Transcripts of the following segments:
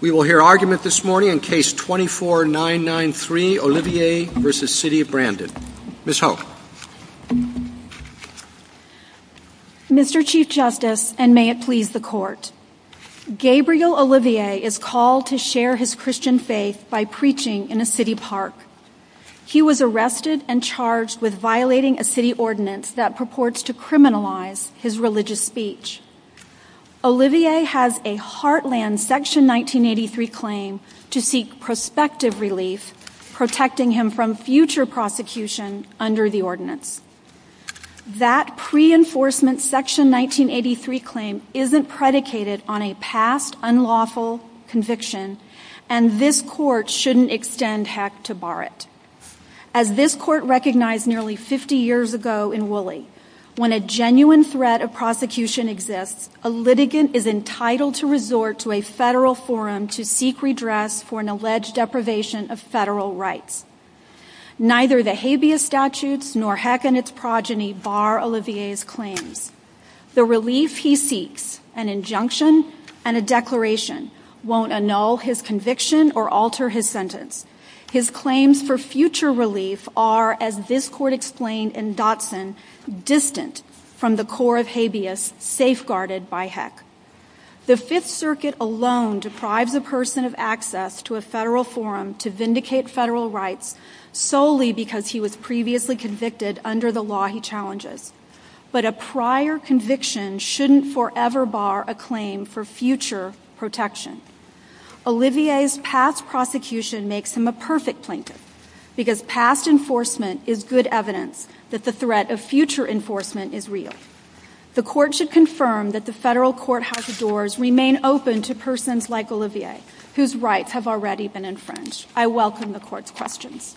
We will hear argument this morning in case 24993, Olivier v. City of Brandon. Mr. Chief Justice, and may it please the Court, Gabriel Olivier is called to share his Christian faith by preaching in a city park. He was arrested and charged with violating a city ordinance that purports to criminalize his religious speech. Olivier has a Heartland Section 1983 claim to seek prospective relief, protecting him from future prosecution under the ordinance. That pre-enforcement Section 1983 claim isn't predicated on a past unlawful conviction, and this Court shouldn't extend heck to bar it. As this Court recognized nearly 50 years ago in Wooley, when a genuine threat of prosecution exists, a litigant is entitled to resort to a federal forum to seek redress for an alleged deprivation of federal rights. Neither the habeas statutes nor heck in its progeny bar Olivier's claims. The relief he seeks, an injunction and a declaration, won't annul his conviction or alter his sentence. His claims for future relief are, as this Court explained in Dotson, distant from the core of habeas safeguarded by heck. The Fifth Circuit alone deprives a person of access to a federal forum to vindicate federal rights solely because he was previously convicted under the law he challenges. But a prior conviction shouldn't forever bar a claim for future protection. Olivier's past prosecution makes him a perfect plaintiff, because past enforcement is good evidence that the threat of future enforcement is real. The Court should confirm that the federal courthouse doors remain open to persons like Olivier, whose rights have already been infringed. I welcome the Court's questions.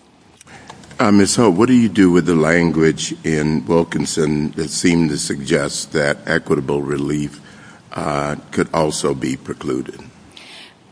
Ms. Holt, what do you do with the language in Wilkinson that seems to suggest that equitable relief could also be precluded?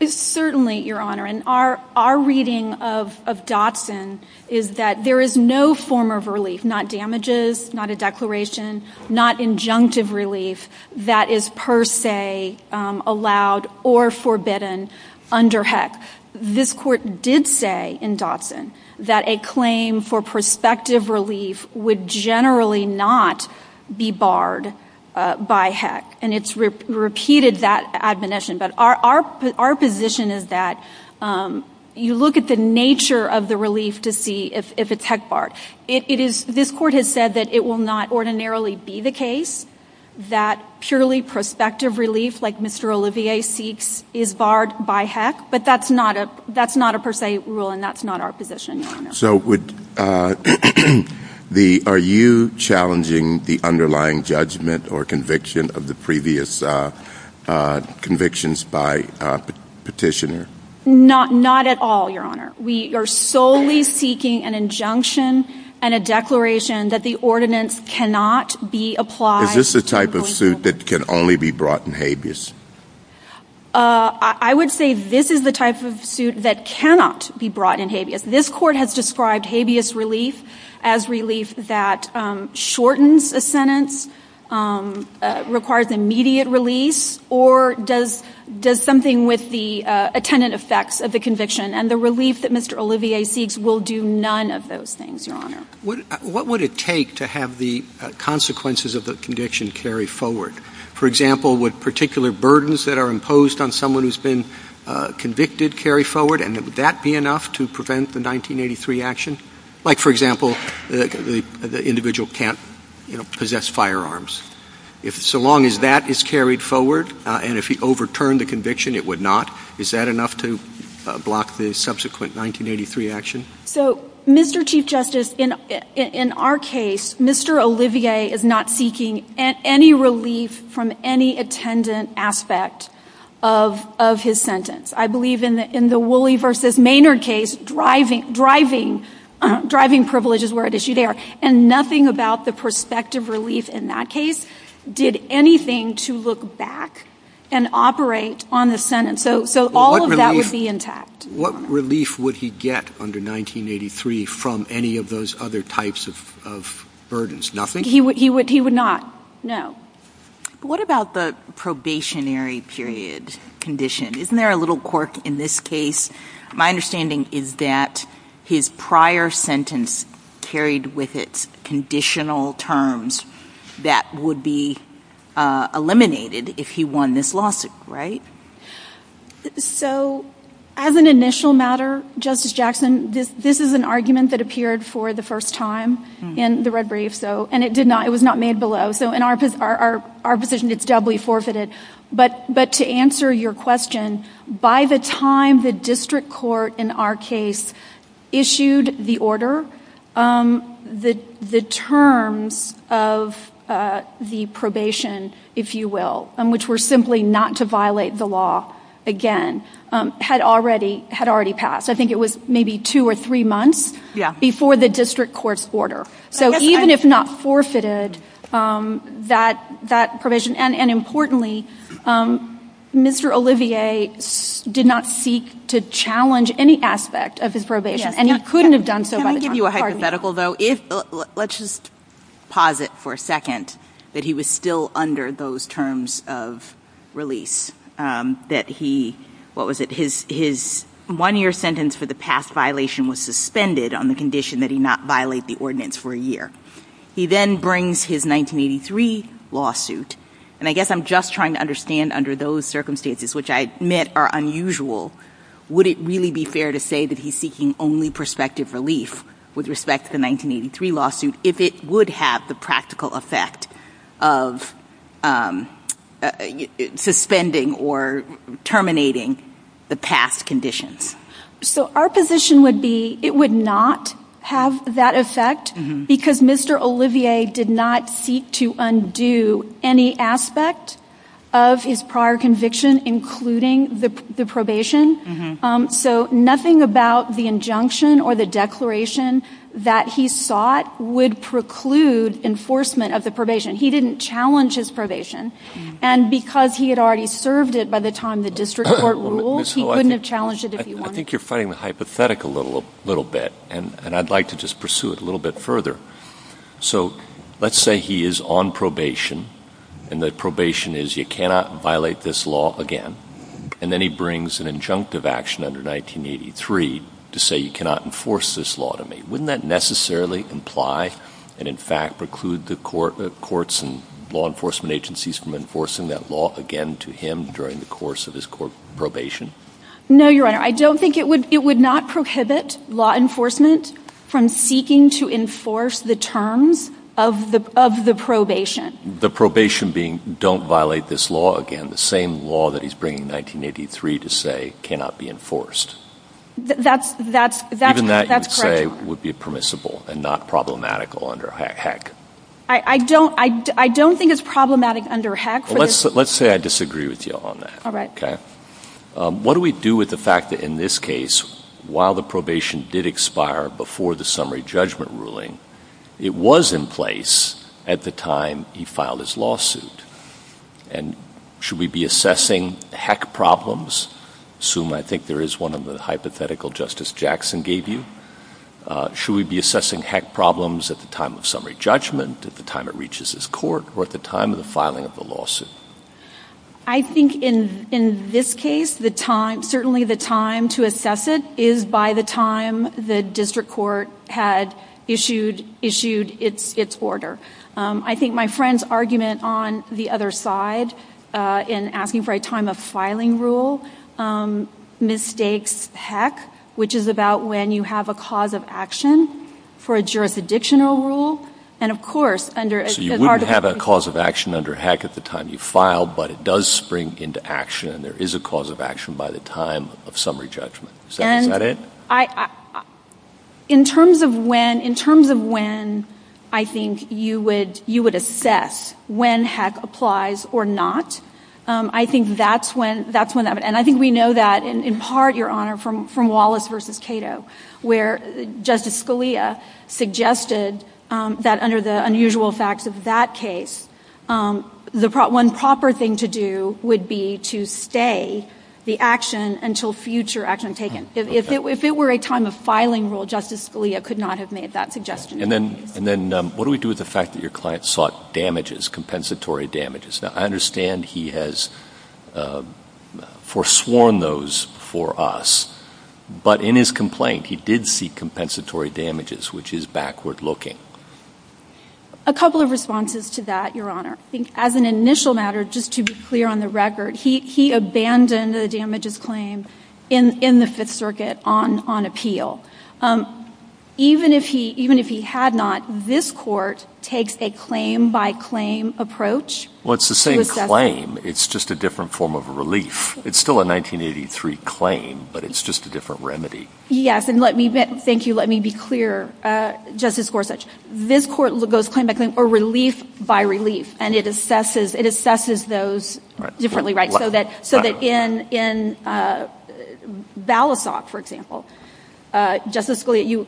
Certainly, Your Honor. Our reading of Dotson is that there is no form of relief, not damages, not a declaration, not injunctive relief that is per se allowed or forbidden under heck. This Court did say in Dotson that a claim for prospective relief would generally not be barred by heck, and it's repeated that admonition. But our position is that you look at the nature of the relief to see if it's heck barred. This Court has said that it will not ordinarily be the case that purely prospective relief, like Mr. Olivier seeks, is barred by heck. But that's not a per se rule, and that's not our position, Your Honor. So are you challenging the underlying judgment or conviction of the previous convictions by petitioner? Not at all, Your Honor. We are solely seeking an injunction and a declaration that the ordinance cannot be applied. Is this the type of suit that can only be brought in habeas? I would say this is the type of suit that cannot be brought in habeas. This Court has described habeas relief as relief that shortens a sentence, requires immediate relief, or does something with the attendant effects of the conviction, and the relief that Mr. Olivier seeks will do none of those things, Your Honor. What would it take to have the consequences of the conviction carry forward? For example, would particular burdens that are imposed on someone who's been convicted carry forward, and would that be enough to prevent the 1983 action? Like, for example, the individual can't possess firearms. So long as that is carried forward, and if he overturned the conviction, it would not, is that enough to block the subsequent 1983 action? So, Mr. Chief Justice, in our case, Mr. Olivier is not seeking any relief from any attendant aspect of his sentence. I believe in the Woolley v. Maynard case, driving privileges were at issue there, and nothing about the prospective relief in that case did anything to look back and operate on the sentence. So all of that would be intact. What relief would he get under 1983 from any of those other types of burdens? Nothing? He would not. No. What about the probationary period condition? Isn't there a little quirk in this case? My understanding is that his prior sentence carried with it conditional terms that would be eliminated if he won this lawsuit, right? So, as an initial matter, Justice Jackson, this is an argument that appeared for the first time in the red brief, and it was not made below, so in our position, it's doubly forfeited. But to answer your question, by the time the district court in our case issued the order, the terms of the probation, if you will, which were simply not to violate the law again, had already passed. I think it was maybe two or three months before the district court's order. So even if not forfeited, that provision, and importantly, Mr. Olivier did not seek to challenge any aspect of his probation, Can I give you a hypothetical, though? Let's just pause it for a second, that he was still under those terms of release. That he, what was it, his one-year sentence for the past violation was suspended on the condition that he not violate the ordinance for a year. He then brings his 1983 lawsuit. And I guess I'm just trying to understand under those circumstances, which I admit are unusual, would it really be fair to say that he's seeking only prospective relief with respect to the 1983 lawsuit if it would have the practical effect of suspending or terminating the past conditions? So our position would be it would not have that effect, because Mr. Olivier did not seek to undo any aspect of his prior conviction, including the probation. So nothing about the injunction or the declaration that he sought would preclude enforcement of the probation. He didn't challenge his probation. And because he had already served it by the time the district court ruled, he couldn't have challenged it if he wanted to. I think you're fighting the hypothetical a little bit, and I'd like to just pursue it a little bit further. So let's say he is on probation, and the probation is you cannot violate this law again. And then he brings an injunctive action under 1983 to say you cannot enforce this law to me. Wouldn't that necessarily imply and, in fact, preclude the courts and law enforcement agencies from enforcing that law again to him during the course of his probation? No, Your Honor. I don't think it would not prohibit law enforcement from seeking to enforce the terms of the probation. The probation being don't violate this law again, the same law that he's bringing in 1983 to say cannot be enforced. That's correct. Even that, you'd say, would be permissible and not problematical under HEC. I don't think it's problematic under HEC. Let's say I disagree with you on that. All right. Okay. What do we do with the fact that, in this case, while the probation did expire before the summary judgment ruling, it was in place at the time he filed his lawsuit? And should we be assessing HEC problems? I assume I think there is one on the hypothetical Justice Jackson gave you. Should we be assessing HEC problems at the time of summary judgment, at the time it reaches his court, or at the time of the filing of the lawsuit? I think in this case, certainly the time to assess it is by the time the district court had issued its order. I think my friend's argument on the other side, in asking for a time of filing rule, mistakes HEC, which is about when you have a cause of action for a jurisdictional rule. So you wouldn't have a cause of action under HEC at the time you file, but it does spring into action, and there is a cause of action by the time of summary judgment. Is that it? In terms of when I think you would assess when HEC applies or not, I think that's one of it. And I think we know that in part, Your Honor, from Wallace v. Cato, where Justice Scalia suggested that under the unusual facts of that case, one proper thing to do would be to stay the action until future action is taken. If it were a time of filing rule, Justice Scalia could not have made that suggestion. And then what do we do with the fact that your client sought damages, compensatory damages? Now, I understand he has forsworn those for us. But in his complaint, he did seek compensatory damages, which is backward-looking. A couple of responses to that, Your Honor. I think as an initial matter, just to be clear on the record, he abandoned the damages claim in the Fifth Circuit on appeal. Even if he had not, this Court takes a claim-by-claim approach. Well, it's the same claim. It's just a different form of relief. It's still a 1983 claim, but it's just a different remedy. Yes, and let me be clear, Justice Gorsuch. This Court goes claim-by-claim or relief-by-relief, and it assesses those differently, right? So that in Balasoff, for example, Justice Scalia,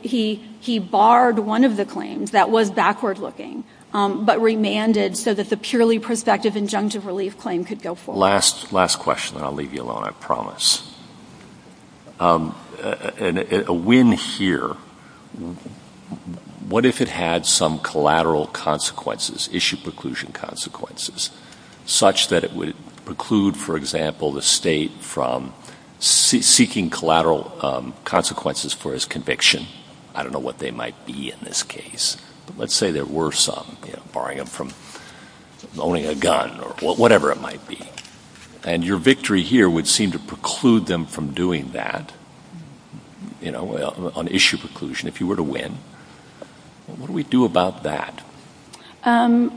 he barred one of the claims that was backward-looking, but remanded so that the purely prospective injunctive relief claim could go forward. Last question, and I'll leave you alone, I promise. A win here, what if it had some collateral consequences, issue preclusion consequences, such that it would preclude, for example, the State from seeking collateral consequences for his conviction? I don't know what they might be in this case. Let's say there were some, barring him from owning a gun or whatever it might be, and your victory here would seem to preclude them from doing that on issue preclusion if you were to win. What do we do about that? I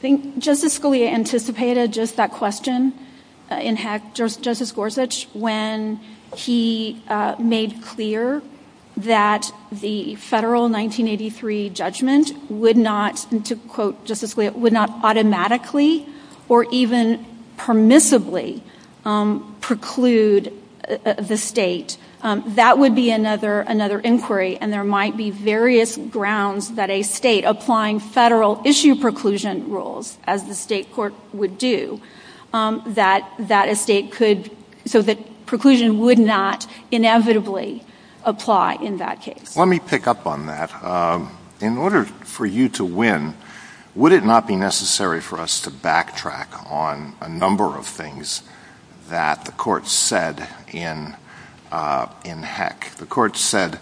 think Justice Scalia anticipated just that question in Justice Gorsuch when he made clear that the federal 1983 judgment would not, to quote Justice Scalia, would not automatically or even permissibly preclude the State. That would be another inquiry, and there might be various grounds that a State applying federal issue preclusion rules, as the State court would do, that a State could, so that preclusion would not inevitably apply in that case. Let me pick up on that. In order for you to win, would it not be necessary for us to backtrack on a number of things that the Court said in Heck? The Court said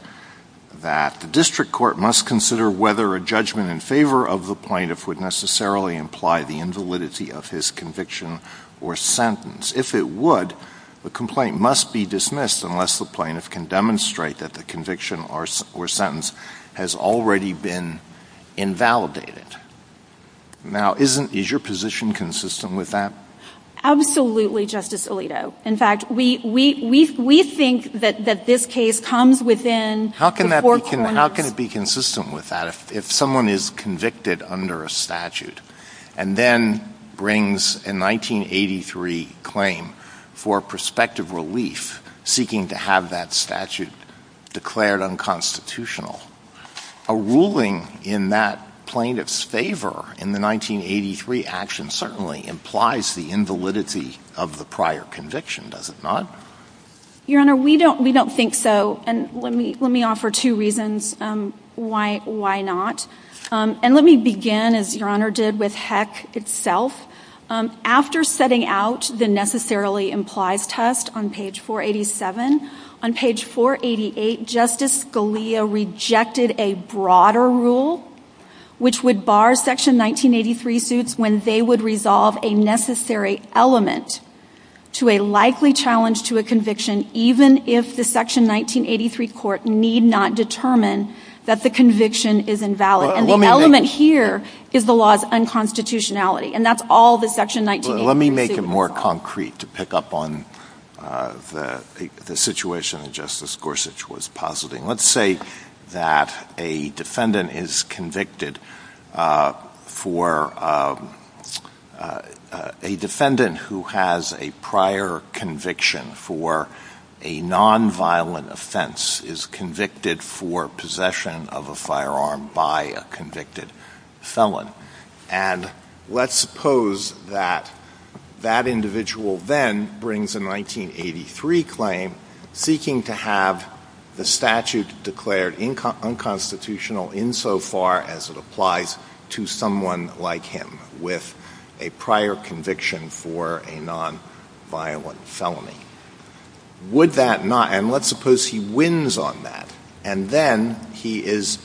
that the district court must consider whether a judgment in favor of the plaintiff would necessarily imply the invalidity of his conviction or sentence. If it would, the complaint must be dismissed unless the plaintiff can demonstrate that the conviction or sentence has already been invalidated. Now, is your position consistent with that? Absolutely, Justice Alito. In fact, we think that this case comes within the four corners. How can it be consistent with that if someone is convicted under a statute and then brings a 1983 claim for prospective relief, seeking to have that statute declared unconstitutional? A ruling in that plaintiff's favor in the 1983 action certainly implies the invalidity of the prior conviction, does it not? Your Honor, we don't think so, and let me offer two reasons why not. And let me begin, as Your Honor did, with Heck itself. After setting out the necessarily implies test on page 487, on page 488 Justice Scalia rejected a broader rule which would bar Section 1983 suits when they would resolve a necessary element to a likely challenge to a conviction even if the Section 1983 court need not determine that the conviction is invalid. And the element here is the law's unconstitutionality, and that's all that Section 1983 suits. Let me make it more concrete to pick up on the situation that Justice Gorsuch was positing. Let's say that a defendant who has a prior conviction for a nonviolent offense is convicted for possession of a firearm by a convicted felon. And let's suppose that that individual then brings a 1983 claim seeking to have the statute declared unconstitutional insofar as it applies to someone like him with a prior conviction for a nonviolent felony. Would that not, and let's suppose he wins on that, and then he is,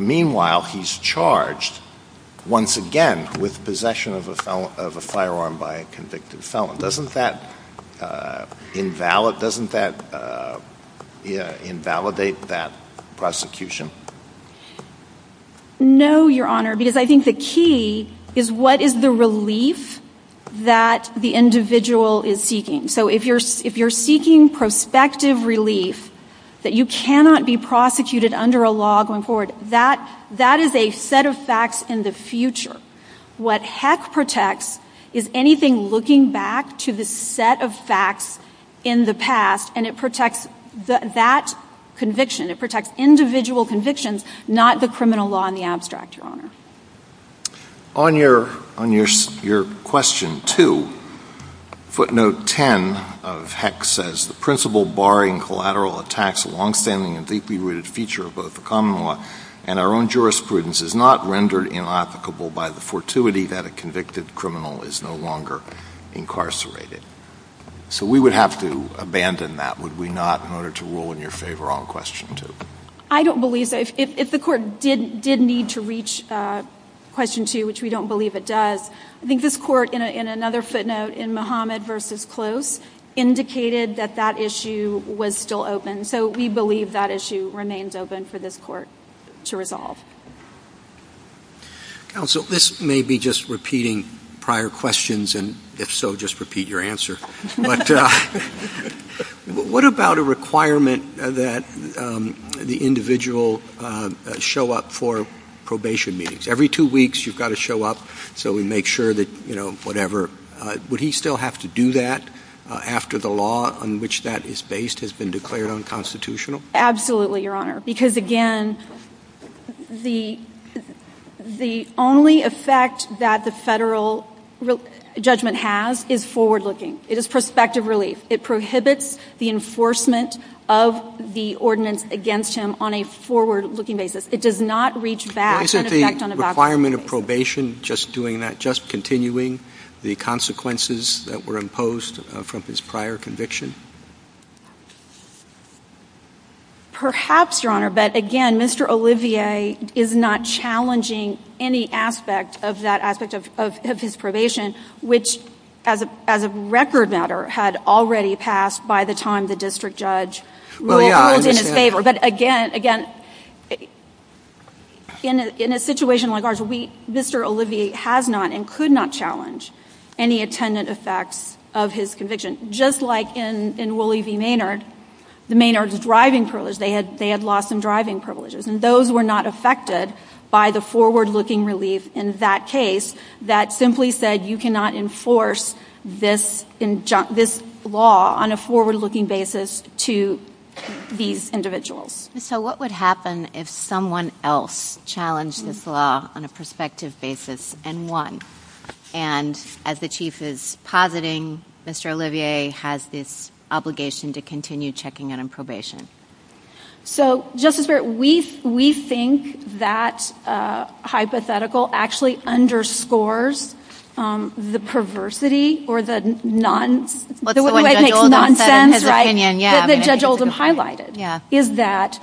meanwhile, he's charged once again with possession of a firearm by a convicted felon. Doesn't that invalidate that prosecution? No, Your Honor, because I think the key is what is the relief that the individual is seeking. So if you're seeking prospective relief that you cannot be prosecuted under a law going forward, that is a set of facts in the future. What HEC protects is anything looking back to the set of facts in the past, and it protects that conviction. It protects individual convictions, not the criminal law and the abstract, Your Honor. On your question 2, footnote 10 of HEC says, The principle barring collateral attacks, a longstanding and deeply rooted feature of both the common law and our own jurisprudence, is not rendered inapplicable by the fortuity that a convicted criminal is no longer incarcerated. So we would have to abandon that, would we not, in order to rule in your favor on question 2? I don't believe that. If the court did need to reach question 2, which we don't believe it does, I think this court, in another footnote in Muhammad v. Close, indicated that that issue was still open. So we believe that issue remains open for this court to resolve. Counsel, this may be just repeating prior questions, and if so, just repeat your answer. What about a requirement that the individual show up for probation meetings? Every two weeks, you've got to show up, so we make sure that, you know, whatever. Would he still have to do that after the law on which that is based has been declared unconstitutional? Absolutely, Your Honor, because again, the only effect that the federal judgment has is forward-looking. It is prospective relief. It prohibits the enforcement of the ordinance against him on a forward-looking basis. It does not reach back. Isn't the requirement of probation just doing that, just continuing the consequences that were imposed from his prior conviction? Perhaps, Your Honor, but again, Mr. Olivier is not challenging any aspect of that aspect of his probation, which, as a record matter, had already passed by the time the district judge ruled in his favor. But again, in a situation like ours, Mr. Olivier has not and could not challenge any attendant effect of his conviction. Just like in Wooley v. Maynard, the Maynards' driving privileges, they had loss in driving privileges, and those were not affected by the forward-looking relief in that case that simply said you cannot enforce this law on a forward-looking basis to these individuals. So what would happen if someone else challenged this law on a prospective basis and won? And as the Chief is positing, Mr. Olivier has this obligation to continue checking in on probation. So, Justice Barrett, we think that hypothetical actually underscores the perversity or the nonsense that Judge Oldham highlighted, is that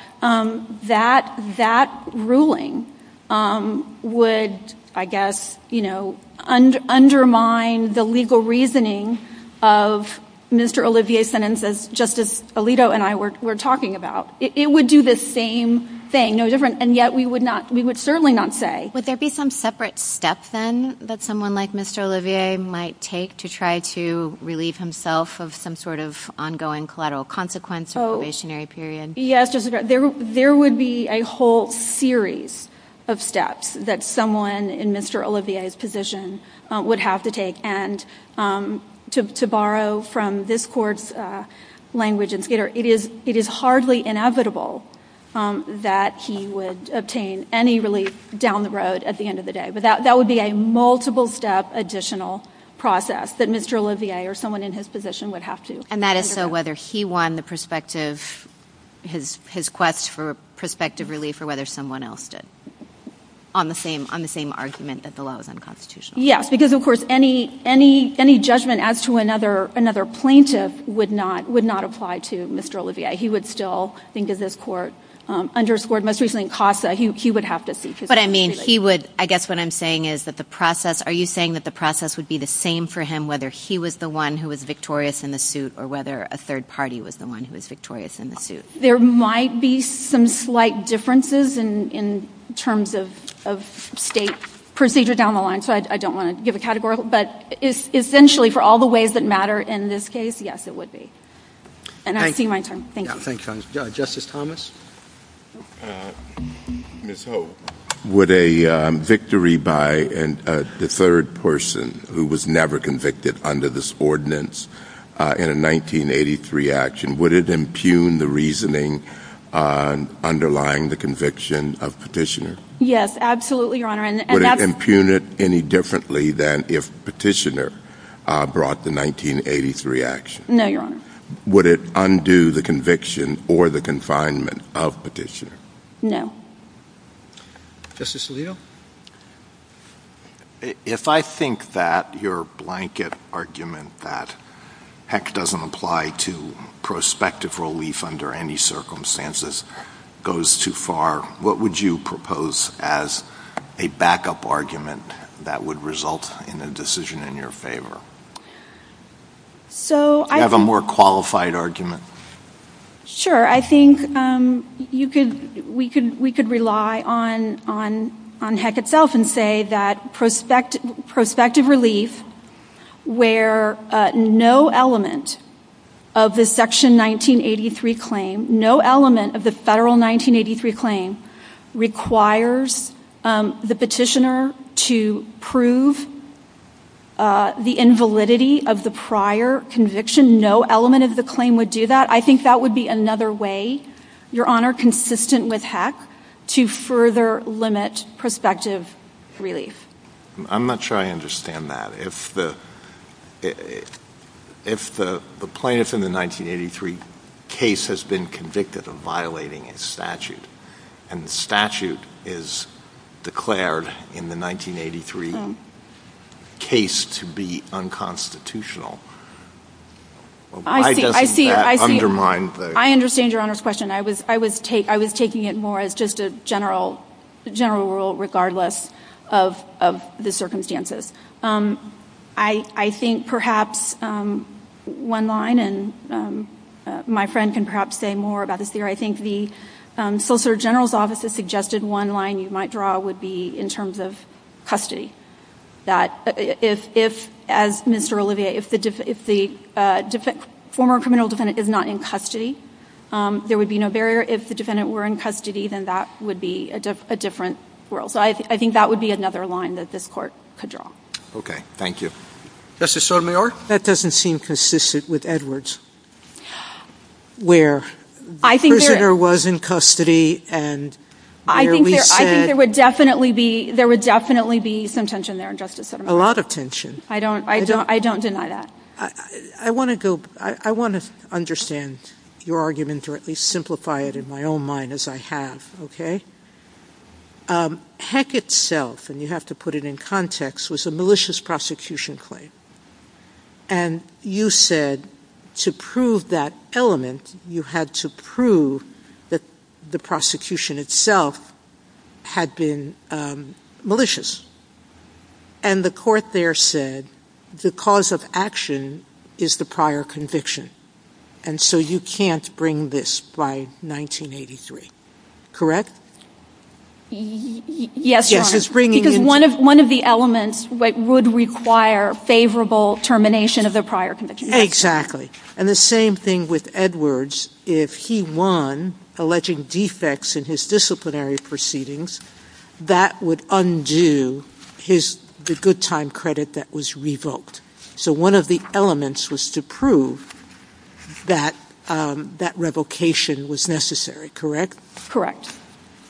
that ruling would, I guess, undermine the legal reasoning of Mr. Olivier's sentences, just as Alito and I were talking about. It would do the same thing, no different, and yet we would certainly not say. Would there be some separate steps, then, that someone like Mr. Olivier might take to try to relieve himself of some sort of ongoing collateral consequence or probationary period? Yes, there would be a whole series of steps that someone in Mr. Olivier's position would have to take, and to borrow from this Court's language, it is hardly inevitable that he would obtain any relief down the road at the end of the day. But that would be a multiple-step additional process that Mr. Olivier or someone in his position would have to undergo. And that is so whether he won his quest for prospective relief or whether someone else did, on the same argument that the law is unconstitutional? Yes, because, of course, any judgment as to another plaintiff would not apply to Mr. Olivier. He would still, I think, as this Court underscored most recently in CASA, he would have to see to that. But, I mean, he would, I guess what I'm saying is that the process, are you saying that the process would be the same for him whether he was the one who was victorious in the suit or whether a third party was the one who was victorious in the suit? There might be some slight differences in terms of state procedure down the line, so I don't want to give a category, but essentially for all the ways that matter in this case, yes, it would be. And I see my turn. Thank you. Justice Thomas. Ms. Holt. Would a victory by the third person who was never convicted under this ordinance in a 1983 action, would it impugn the reasoning underlying the conviction of Petitioner? Yes, absolutely, Your Honor. Would it impugn it any differently than if Petitioner brought the 1983 action? No, Your Honor. Would it undo the conviction or the confinement of Petitioner? No. Justice Alito. If I think that your blanket argument that heck doesn't apply to prospective relief under any circumstances goes too far, what would you propose as a backup argument that would result in a decision in your favor? Do you have a more qualified argument? Sure. I think we could rely on heck itself and say that prospective relief where no element of the Section 1983 claim, no element of the Federal 1983 claim requires the Petitioner to prove the invalidity of the prior conviction. No element of the claim would do that. I think that would be another way, Your Honor, consistent with heck, to further limit prospective relief. I'm not sure I understand that. If the plaintiff in the 1983 case has been convicted of violating his statute, and the statute is declared in the 1983 case to be unconstitutional, why doesn't that undermine the – I see, I see. I understand Your Honor's question. I was taking it more as just a general rule regardless of the circumstances. I think perhaps one line, and my friend can perhaps say more about this here, I think the Solicitor General's Office has suggested one line you might draw would be in terms of custody. If, as Mr. Olivier, if the former criminal defendant is not in custody, there would be no barrier. If the defendant were in custody, then that would be a different world. So I think that would be another line that this Court could draw. Okay. Thank you. Justice Sotomayor? That doesn't seem consistent with Edwards, where the prisoner was in custody and there was – I think there would definitely be some tension there, Justice Sotomayor. A lot of tension. I don't deny that. I want to understand your argument or at least simplify it in my own mind as I have, okay? Heck itself, and you have to put it in context, was a malicious prosecution claim. And you said to prove that element, you had to prove that the prosecution itself had been malicious. And the Court there said the cause of action is the prior conviction, and so you can't bring this by 1983. Correct? Yes, Your Honor. Because one of the elements would require favorable termination of the prior conviction. Exactly. And the same thing with Edwards. If he won, alleging defects in his disciplinary proceedings, that would undo the good time credit that was revoked. So one of the elements was to prove that that revocation was necessary, correct? Correct.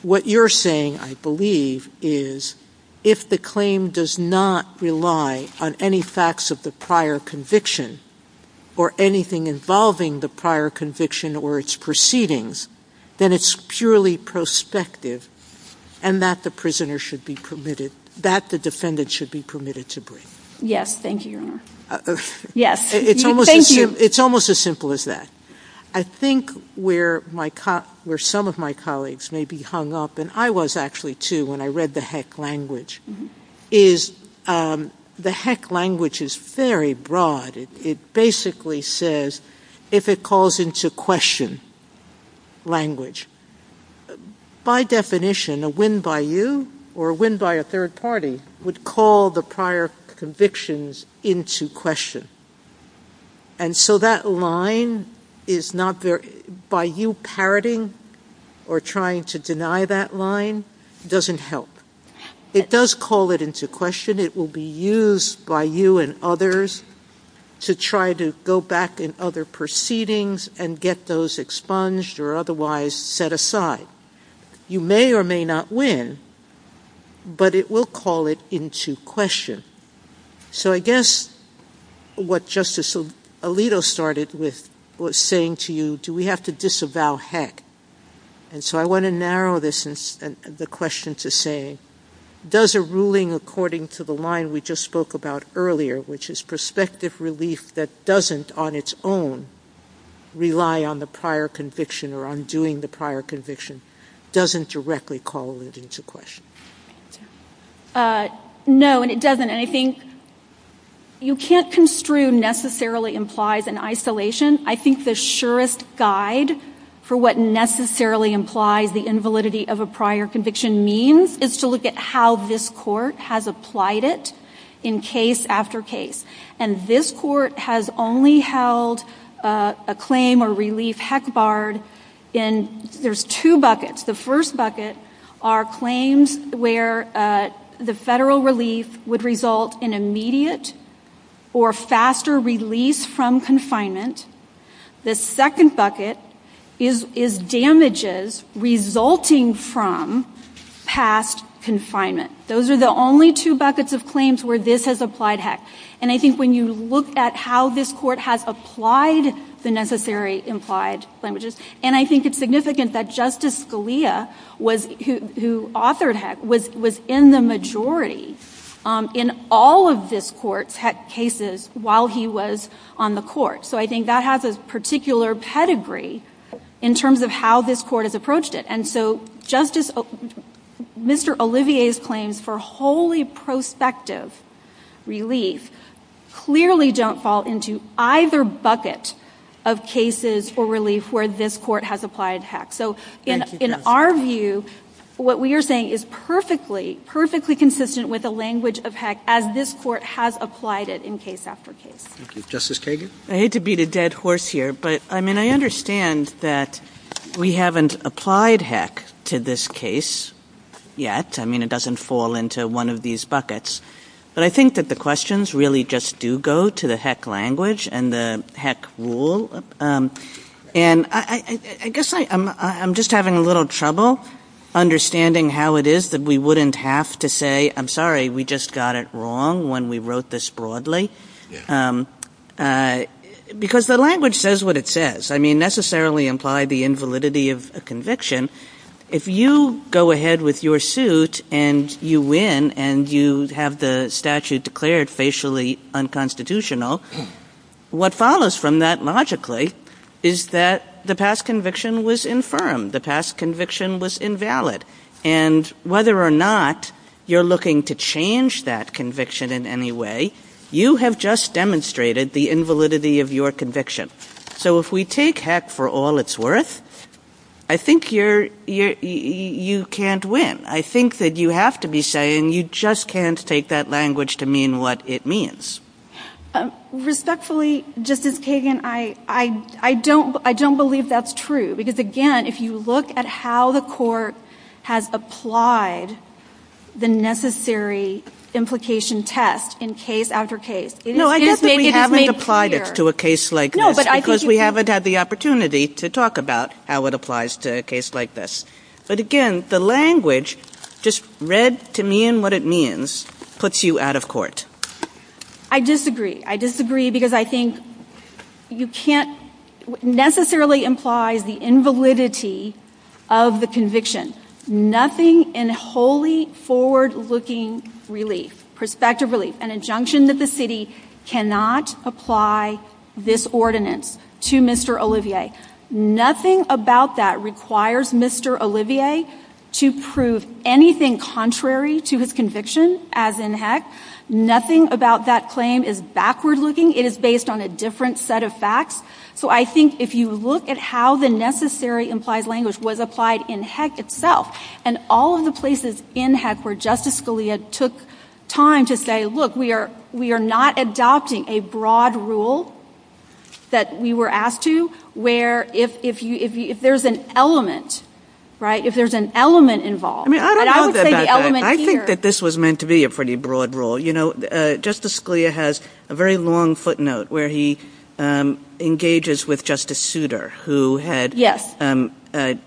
What you're saying, I believe, is if the claim does not rely on any facts of the prior conviction or anything involving the prior conviction or its proceedings, then it's purely prospective and that the defendant should be permitted to bring. Yes, thank you, Your Honor. It's almost as simple as that. I think where some of my colleagues may be hung up, and I was actually too when I read the HEC language, is the HEC language is very broad. It basically says, if it calls into question language, by definition, a win by you or a win by a third party would call the prior convictions into question. And so that line is not there. By you parroting or trying to deny that line doesn't help. It does call it into question. It will be used by you and others to try to go back in other proceedings and get those expunged or otherwise set aside. You may or may not win, but it will call it into question. So I guess what Justice Alito started with was saying to you, do we have to disavow HEC? And so I want to narrow the question to say, does a ruling according to the line we just spoke about earlier, which is prospective relief that doesn't on its own rely on the prior conviction or undoing the prior conviction, doesn't directly call it into question? No, and it doesn't. And I think you can't construe necessarily implies an isolation. I think the surest guide for what necessarily implies the invalidity of a prior conviction means is to look at how this court has applied it in case after case. And this court has only held a claim or relief HEC barred in, there's two buckets. The first bucket are claims where the federal relief would result in immediate or faster release from confinement. The second bucket is damages resulting from past confinement. Those are the only two buckets of claims where this has applied HEC. And I think when you look at how this court has applied the necessary implied damages, and I think it's significant that Justice Scalia, who authored HEC, was in the majority in all of this court's HEC cases while he was on the court. So I think that has a particular pedigree in terms of how this court has approached it. And so Mr. Olivier's claims for wholly prospective relief clearly don't fall into either bucket of cases for relief where this court has applied HEC. So in our view, what we are saying is perfectly, perfectly consistent with the language of HEC as this court has applied it in case after case. Thank you. Justice Kagan? I hate to beat a dead horse here, but I mean I understand that we haven't applied HEC to this case yet. I mean it doesn't fall into one of these buckets. But I think that the questions really just do go to the HEC language and the HEC rule. And I guess I'm just having a little trouble understanding how it is that we wouldn't have to say, I'm sorry, we just got it wrong when we wrote this broadly. Because the language says what it says. I mean necessarily imply the invalidity of a conviction. If you go ahead with your suit and you win and you have the statute declared facially unconstitutional, what follows from that logically is that the past conviction was infirm. The past conviction was invalid. And whether or not you're looking to change that conviction in any way, you have just demonstrated the invalidity of your conviction. So if we take HEC for all it's worth, I think you can't win. I think that you have to be saying you just can't take that language to mean what it means. Respectfully, Justice Kagan, I don't believe that's true. Because again, if you look at how the court has applied the necessary implication test in case after case, No, I guess we haven't applied it to a case like this because we haven't had the opportunity to talk about how it applies to a case like this. But again, the language, just read to mean what it means, puts you out of court. I disagree. I disagree because I think you can't necessarily imply the invalidity of the conviction. Nothing in wholly forward-looking relief, prospective relief, an injunction that the city cannot apply this ordinance to Mr. Olivier. Nothing about that requires Mr. Olivier to prove anything contrary to his conviction as in HEC. Nothing about that claim is backward-looking. It is based on a different set of facts. So I think if you look at how the necessary implied language was applied in HEC itself, and all of the places in HEC where Justice Scalia took time to say, look, we are not adopting a broad rule that we were asked to, where if there's an element, right, if there's an element involved. I think that this was meant to be a pretty broad rule. You know, Justice Scalia has a very long footnote where he engages with Justice Souter, who had said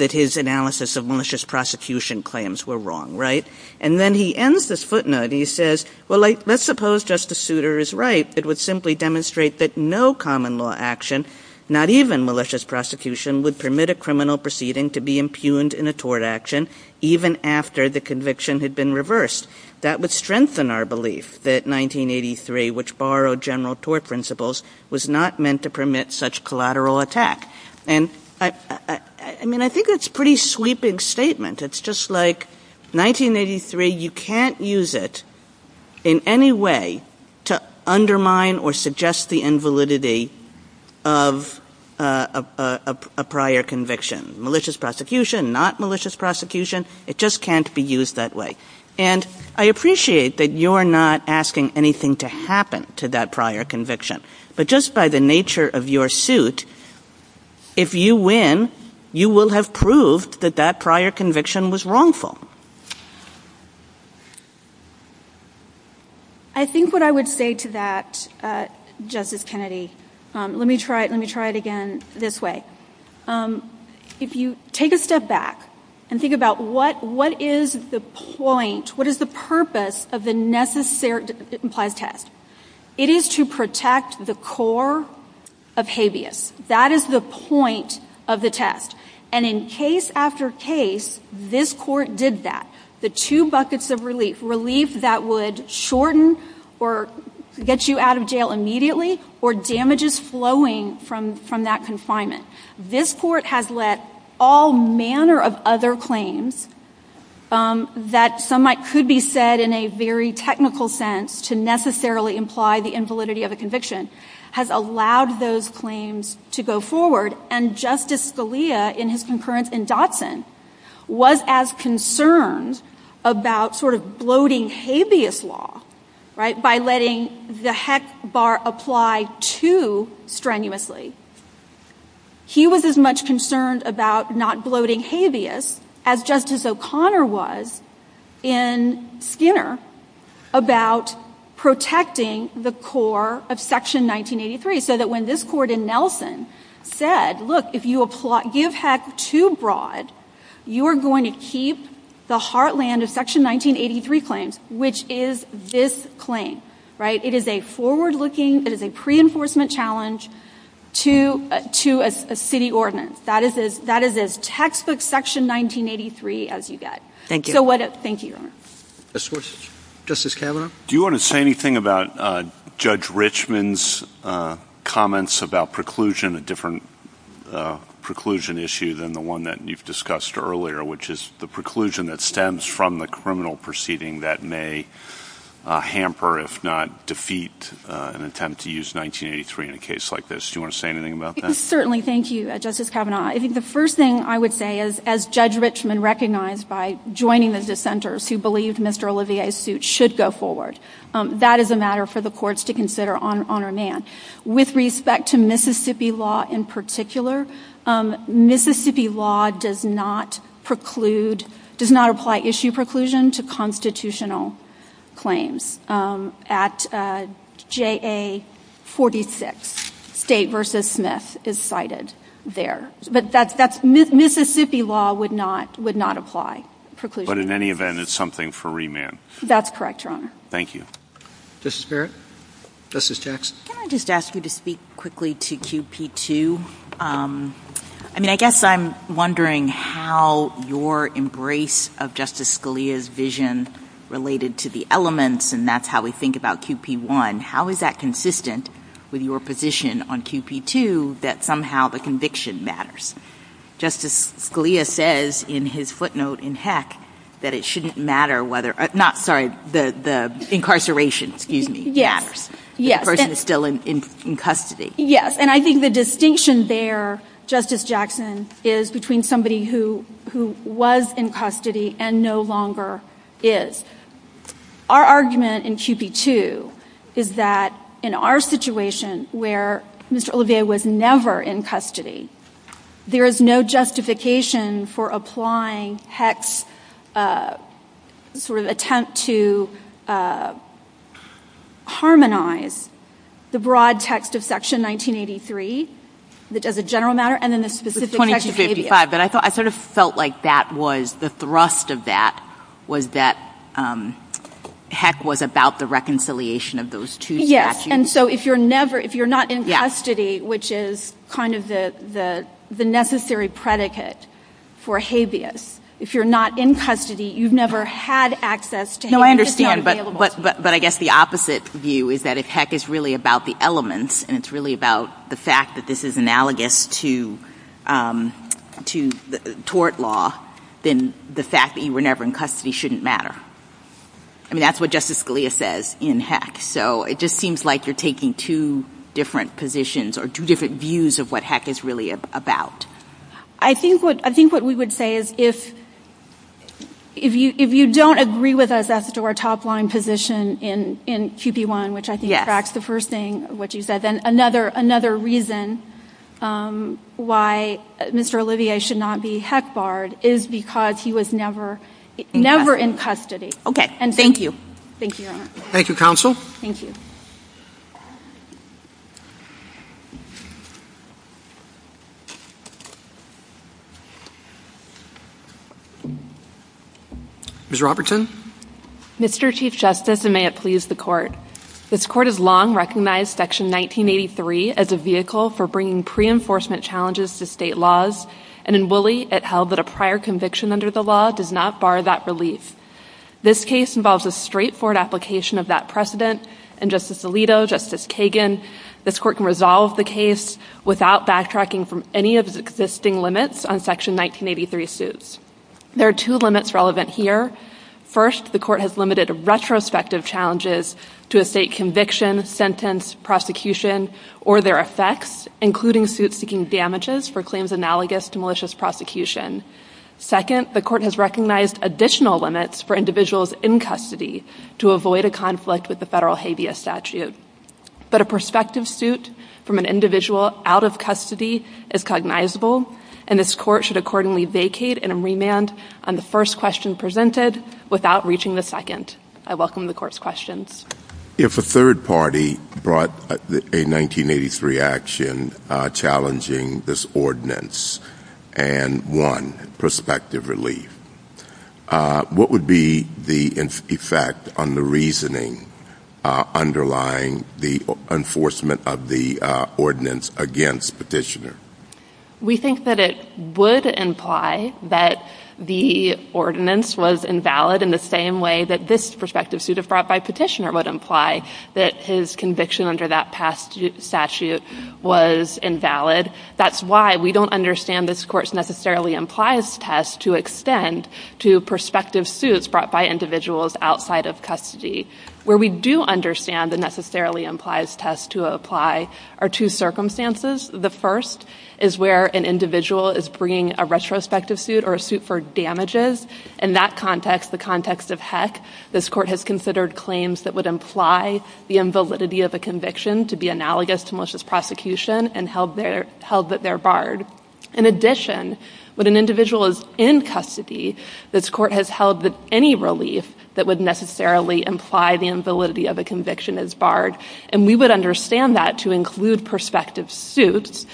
that his analysis of malicious prosecution claims were wrong, right? And then he ends this footnote and he says, well, let's suppose Justice Souter is right. It would simply demonstrate that no common law action, not even malicious prosecution, would permit a criminal proceeding to be impugned in a tort action even after the conviction had been reversed. That would strengthen our belief that 1983, which borrowed general tort principles, was not meant to permit such collateral attack. And I mean, I think that's a pretty sweeping statement. It's just like 1983, you can't use it in any way to undermine or suggest the invalidity of a prior conviction. Malicious prosecution, not malicious prosecution, it just can't be used that way. And I appreciate that you're not asking anything to happen to that prior conviction, but just by the nature of your suit, if you win, you will have proved that that prior conviction was wrongful. I think what I would say to that, Justice Kennedy, let me try it again this way. If you take a step back and think about what is the point, what is the purpose of the necessary test? It is to protect the core of habeas. That is the point of the test. And in case after case, this court did that. The two buckets of relief, relief that would shorten or get you out of jail immediately, or damages flowing from that confinement. This court has let all manner of other claims that some might could be said in a very technical sense to necessarily imply the invalidity of a conviction, has allowed those claims to go forward. And Justice Scalia, in his concurrence in Dotson, was as concerned about sort of bloating habeas law, right, by letting the heck bar apply too strenuously. He was as much concerned about not bloating habeas as Justice O'Connor was in Skinner about protecting the core of Section 1983. So that when this court in Nelson said, look, if you give heck too broad, you are going to keep the heartland of Section 1983 claims, which is this claim, right? It is a forward-looking, it is a pre-enforcement challenge to a city ordinance. That is as textbook Section 1983 as you get. Thank you. Thank you. Justice Kavanaugh? Do you want to say anything about Judge Richmond's comments about preclusion, a different preclusion issue than the one that you've discussed earlier, which is the preclusion that stems from the criminal proceeding that may hamper, if not defeat, an attempt to use 1983 in a case like this? Do you want to say anything about that? Certainly. Thank you, Justice Kavanaugh. I think the first thing I would say is, as Judge Richmond recognized by joining the dissenters who believe Mr. Olivier's suit should go forward, that is a matter for the courts to consider on remand. With respect to Mississippi law in particular, Mississippi law does not preclude, does not apply issue preclusion to constitutional claims. At JA 46, State v. Smith is cited there. But Mississippi law would not apply preclusion. But in any event, it is something for remand. That is correct, Your Honor. Thank you. Justice Barrett? Justice Jackson? Can I just ask you to speak quickly to QP2? I mean, I guess I'm wondering how your embrace of Justice Scalia's vision related to the elements, and that's how we think about QP1. How is that consistent with your position on QP2, that somehow the conviction matters? Justice Scalia says in his footnote in Heck that it shouldn't matter whether, not, sorry, the incarceration, excuse me, matters. The person is still in custody. Yes, and I think the distinction there, Justice Jackson, is between somebody who was in custody and no longer is. Our argument in QP2 is that in our situation where Mr. Olivier was never in custody, there is no justification for applying Heck's sort of attempt to harmonize the broad text of Section 1983 as a general matter and then the specific text of ADA. But I sort of felt like the thrust of that was that Heck was about the reconciliation of those two statutes. And so if you're not in custody, which is kind of the necessary predicate for habeas, if you're not in custody, you've never had access to Heck. No, I understand, but I guess the opposite view is that if Heck is really about the elements and it's really about the fact that this is analogous to tort law, then the fact that you were never in custody shouldn't matter. I mean, that's what Justice Scalia says in Heck. So it just seems like you're taking two different positions or two different views of what Heck is really about. I think what we would say is if you don't agree with us as to our top-line position in QP1, which I think tracks the first thing, what you said, then another reason why Mr. Olivier should not be Heck-barred is because he was never in custody. Okay, thank you. Thank you, Your Honor. Thank you, Counsel. Thank you. Ms. Robertson. Mr. Chief Justice, and may it please the Court, this Court has long recognized Section 1983 as a vehicle for bringing pre-enforcement challenges to state laws, and in Woolley it held that a prior conviction under the law does not bar that relief. This case involves a straightforward application of that precedent, and Justice Alito, Justice Kagan, this Court can resolve the case without backtracking from any of the existing limits on Section 1983 suits. There are two limits relevant here. First, the Court has limited retrospective challenges to a state conviction, sentence, prosecution, or their effects, including suits seeking damages for claims analogous to malicious prosecution. Second, the Court has recognized additional limits for individuals in custody to avoid a conflict with the federal habeas statute. But a prospective suit from an individual out of custody is cognizable, and this Court should accordingly vacate and remand on the first question presented without reaching the second. I welcome the Court's questions. If a third party brought a 1983 action challenging this ordinance and won prospective relief, what would be the effect on the reasoning underlying the enforcement of the ordinance against Petitioner? We think that it would imply that the ordinance was invalid in the same way that this prospective suit brought by Petitioner would imply that his conviction under that statute was invalid. That's why we don't understand this Court's necessarily implies test to extend to prospective suits brought by individuals outside of custody. Where we do understand the necessarily implies test to apply are two circumstances. The first is where an individual is bringing a retrospective suit or a suit for damages. In that context, the context of heck, this Court has considered claims that would imply the invalidity of a conviction to be analogous to malicious prosecution and held that they're barred. In addition, when an individual is in custody, this Court has held that any relief that would necessarily imply the invalidity of a conviction is barred. And we would understand that to include prospective suits.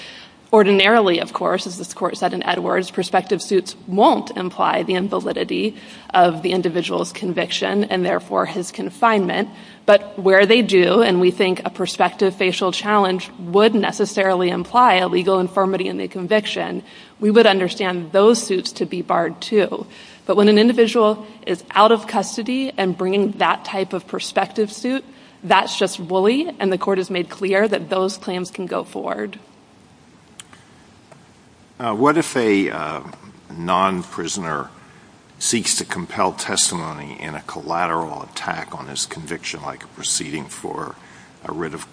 Ordinarily, of course, as this Court said in Edwards, prospective suits won't imply the invalidity of the individual's conviction and therefore his confinement, but where they do, and we think a prospective facial challenge would necessarily imply a legal infirmity in the conviction, we would understand those suits to be barred too. But when an individual is out of custody and bringing that type of prospective suit, that's just bully and the Court has made clear that those claims can go forward. What if a non-prisoner seeks to compel testimony in a collateral attack on his conviction like a proceeding for a writ of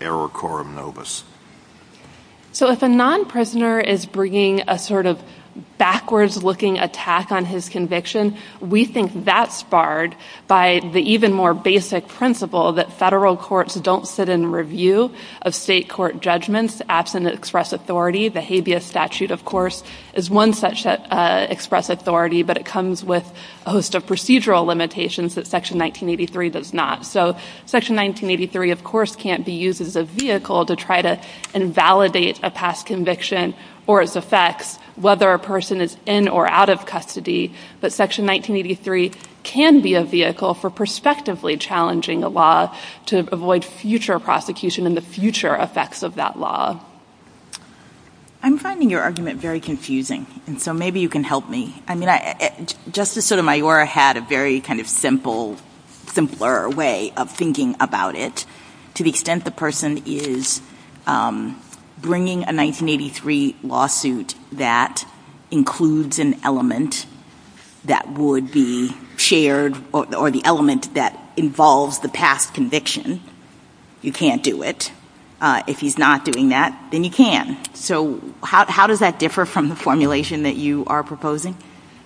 error quorum novus? So if a non-prisoner is bringing a sort of backwards-looking attack on his conviction, we think that's barred by the even more basic principle that federal courts don't sit in review of state court judgments absent express authority. The habeas statute, of course, is one such express authority, but it comes with a host of procedural limitations that Section 1983 does not. So Section 1983, of course, can't be used as a vehicle to try to invalidate a past conviction or its effects whether a person is in or out of custody, but Section 1983 can be a vehicle for prospectively challenging a law to avoid future prosecution and the future effects of that law. I'm finding your argument very confusing, and so maybe you can help me. Justice Sotomayor had a very kind of simpler way of thinking about it to the extent the person is bringing a 1983 lawsuit that includes an element that would be shared or the element that involves the past conviction. You can't do it. If he's not doing that, then you can. So how does that differ from the formulation that you are proposing?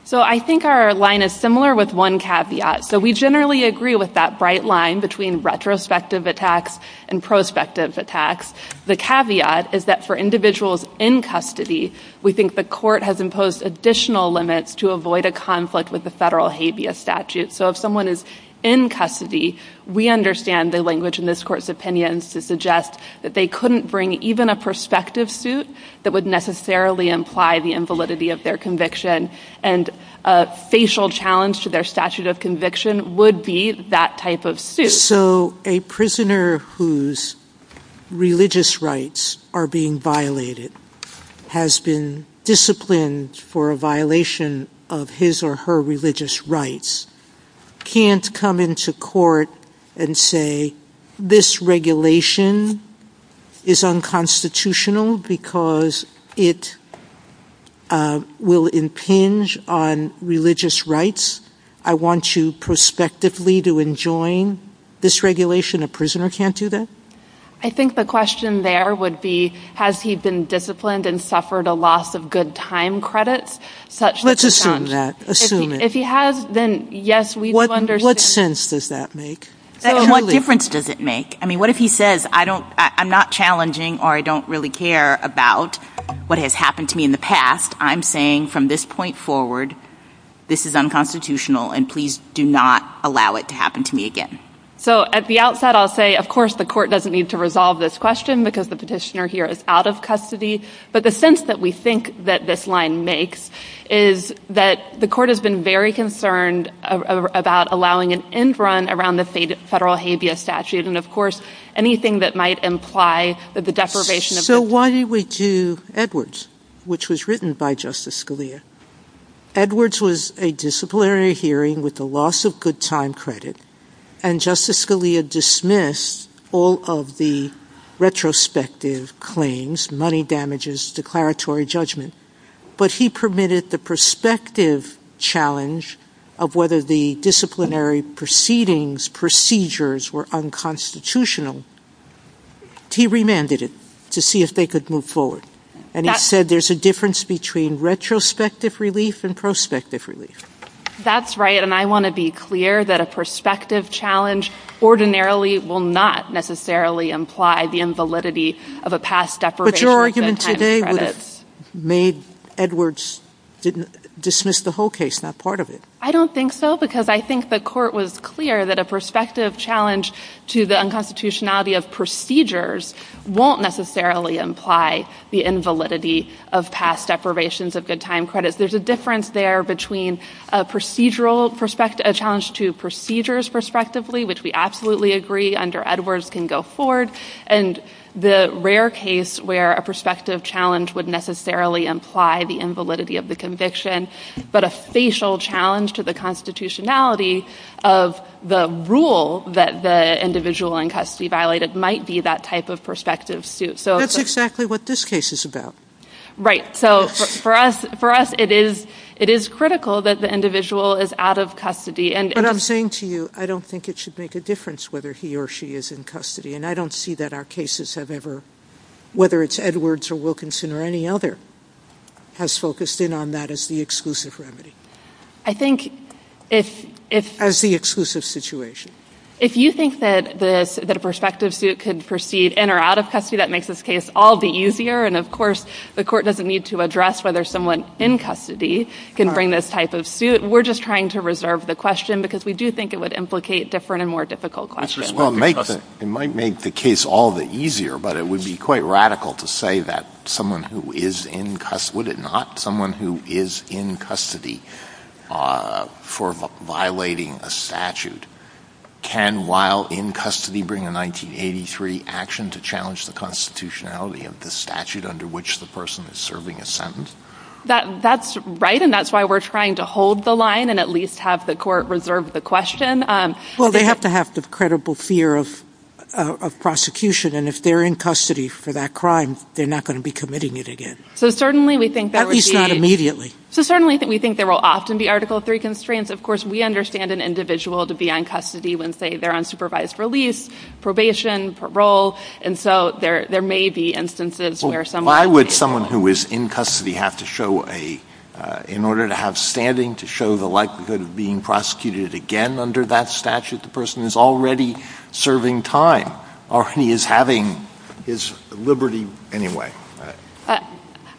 So I think our line is similar with one caveat. So we generally agree with that bright line between retrospective attacks and prospective attacks. The caveat is that for individuals in custody, we think the court has imposed additional limits to avoid a conflict with the federal habeas statute. So if someone is in custody, we understand the language in this court's opinion to suggest that they couldn't bring even a prospective suit that would necessarily imply the invalidity of their conviction, and a facial challenge to their statute of conviction would be that type of suit. So a prisoner whose religious rights are being violated has been disciplined for a violation of his or her religious rights can't come into court and say, this regulation is unconstitutional because it will impinge on religious rights. I want you prospectively to enjoin this regulation. A prisoner can't do that? I think the question there would be, has he been disciplined and suffered a loss of good time credits? Let's assume that. If he has, then yes, we do understand. What sense does that make? What difference does it make? I mean, what if he says, I'm not challenging or I don't really care about what has happened to me in the past. I'm saying from this point forward, this is unconstitutional, and please do not allow it to happen to me again. So at the outset, I'll say, of course, the court doesn't need to resolve this question because the petitioner here is out of custody. But the sense that we think that this line makes is that the court has been very concerned about allowing an end run around the federal habeas statute and, of course, anything that might imply that the deprivation of- So why do we do Edwards, which was written by Justice Scalia? Edwards was a disciplinary hearing with a loss of good time credit, and Justice Scalia dismissed all of the retrospective claims, money damages, declaratory judgment. But he permitted the prospective challenge of whether the disciplinary proceedings, procedures were unconstitutional. He remanded it to see if they could move forward. And he said there's a difference between retrospective relief and prospective relief. That's right, and I want to be clear that a prospective challenge ordinarily will not necessarily imply the invalidity of a past deprivation of good time credit. But your argument today would have made Edwards dismiss the whole case, not part of it. I don't think so because I think the court was clear that a prospective challenge to the unconstitutionality of procedures won't necessarily imply the invalidity of past deprivations of good time credits. There's a difference there between a challenge to procedures prospectively, which we absolutely agree under Edwards can go forward, and the rare case where a prospective challenge would necessarily imply the invalidity of the conviction, but a facial challenge to the constitutionality of the rule that the individual in custody violated might be that type of prospective suit. That's exactly what this case is about. Right, so for us it is critical that the individual is out of custody. But I'm saying to you I don't think it should make a difference whether he or she is in custody, and I don't see that our cases have ever, whether it's Edwards or Wilkinson or any other, has focused in on that as the exclusive remedy. I think if... As the exclusive situation. If you think that a prospective suit could proceed in or out of custody, that makes this case all the easier, and of course the court doesn't need to address whether someone in custody can bring this type of suit. We're just trying to reserve the question because we do think it would implicate different and more difficult questions. It might make the case all the easier, but it would be quite radical to say that someone who is in custody, would it not, someone who is in custody for violating a statute, can while in custody bring a 1983 action to challenge the constitutionality of the statute under which the person is serving a sentence? That's right, and that's why we're trying to hold the line and at least have the court reserve the question. Well, they have to have the credible fear of prosecution, and if they're in custody for that crime, they're not going to be committing it again. At least not immediately. So certainly we think there will often be Article III constraints. Of course, we understand an individual to be on custody when, say, they're on supervised release, probation, parole, and so there may be instances where someone... Why would someone who is in custody have to show a... in order to have standing to show the likelihood of being prosecuted again under that statute? The person is already serving time, or he is having his liberty anyway.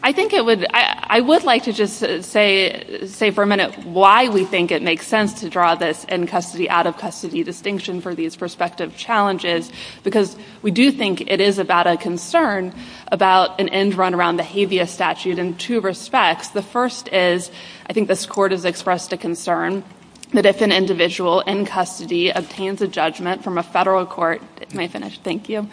I think it would... I would like to just say for a minute why we think it makes sense to draw this in custody, out of custody distinction for these prospective challenges, because we do think it is about a concern about an end run around the habeas statute in two respects. The first is, I think this court has expressed the concern that if an individual in custody obtains a judgment from a federal court... Can I finish? Thank you.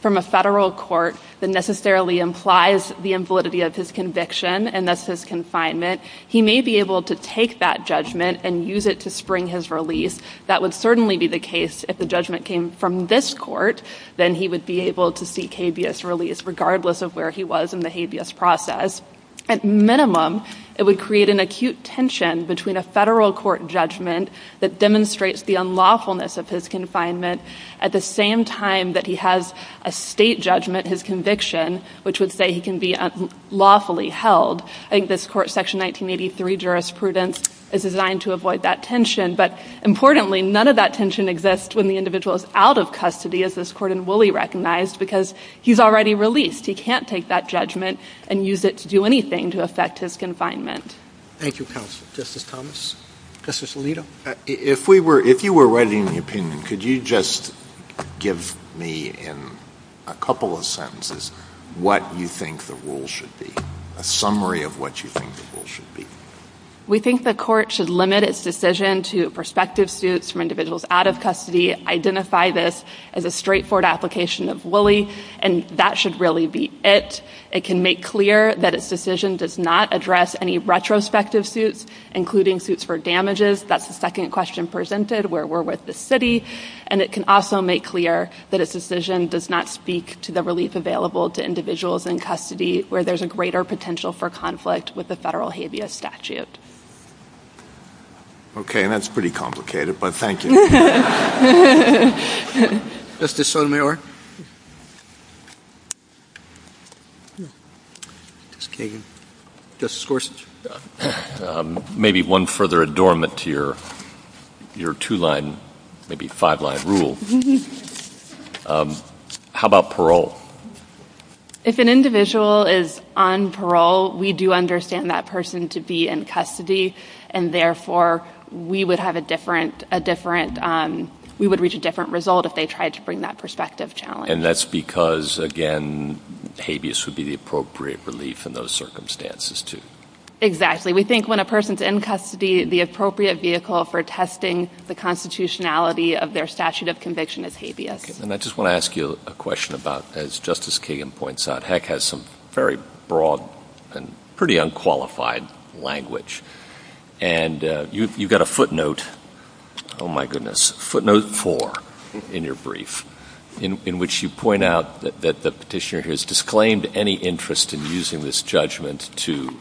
From a federal court that necessarily implies the invalidity of his conviction, and that's his confinement, he may be able to take that judgment and use it to spring his release. That would certainly be the case if the judgment came from this court, then he would be able to seek habeas release regardless of where he was in the habeas process. At minimum, it would create an acute tension between a federal court judgment that demonstrates the unlawfulness of his confinement at the same time that he has a state judgment, his conviction, which would say he can be unlawfully held. I think this court, Section 1983 jurisprudence, is designed to avoid that tension, but importantly, none of that tension exists when the individual is out of custody, as this court in Woolley recognized, because he's already released. He can't take that judgment and use it to do anything to affect his confinement. Thank you, counsel. Justice Thomas? Justice Alito? If you were writing an opinion, could you just give me in a couple of sentences what you think the rule should be, a summary of what you think the rule should be? We think the court should limit its decision to prospective suits for individuals out of custody, identify this as a straightforward application of Woolley, and that should really be it. It can make clear that its decision does not address any retrospective suits, including suits for damages. That's the second question presented where we're with the city. And it can also make clear that its decision does not speak to the relief available to individuals in custody where there's a greater potential for conflict with the federal habeas statute. Okay, and that's pretty complicated, but thank you. Justice Sotomayor? Maybe one further adornment to your two-line, maybe five-line rule. How about parole? If an individual is on parole, we do understand that person to be in custody, and therefore we would reach a different result if they tried to bring that prospective challenge. And that's because, again, habeas would be the appropriate relief in those circumstances, too. Exactly. We think when a person's in custody, the appropriate vehicle for testing the constitutionality of their statute of conviction is habeas. And I just want to ask you a question about, as Justice Kagan points out, HEC has some very broad and pretty unqualified language. And you've got a footnote, oh, my goodness, footnote four in your brief, in which you point out that the petitioner has disclaimed any interest in using this judgment to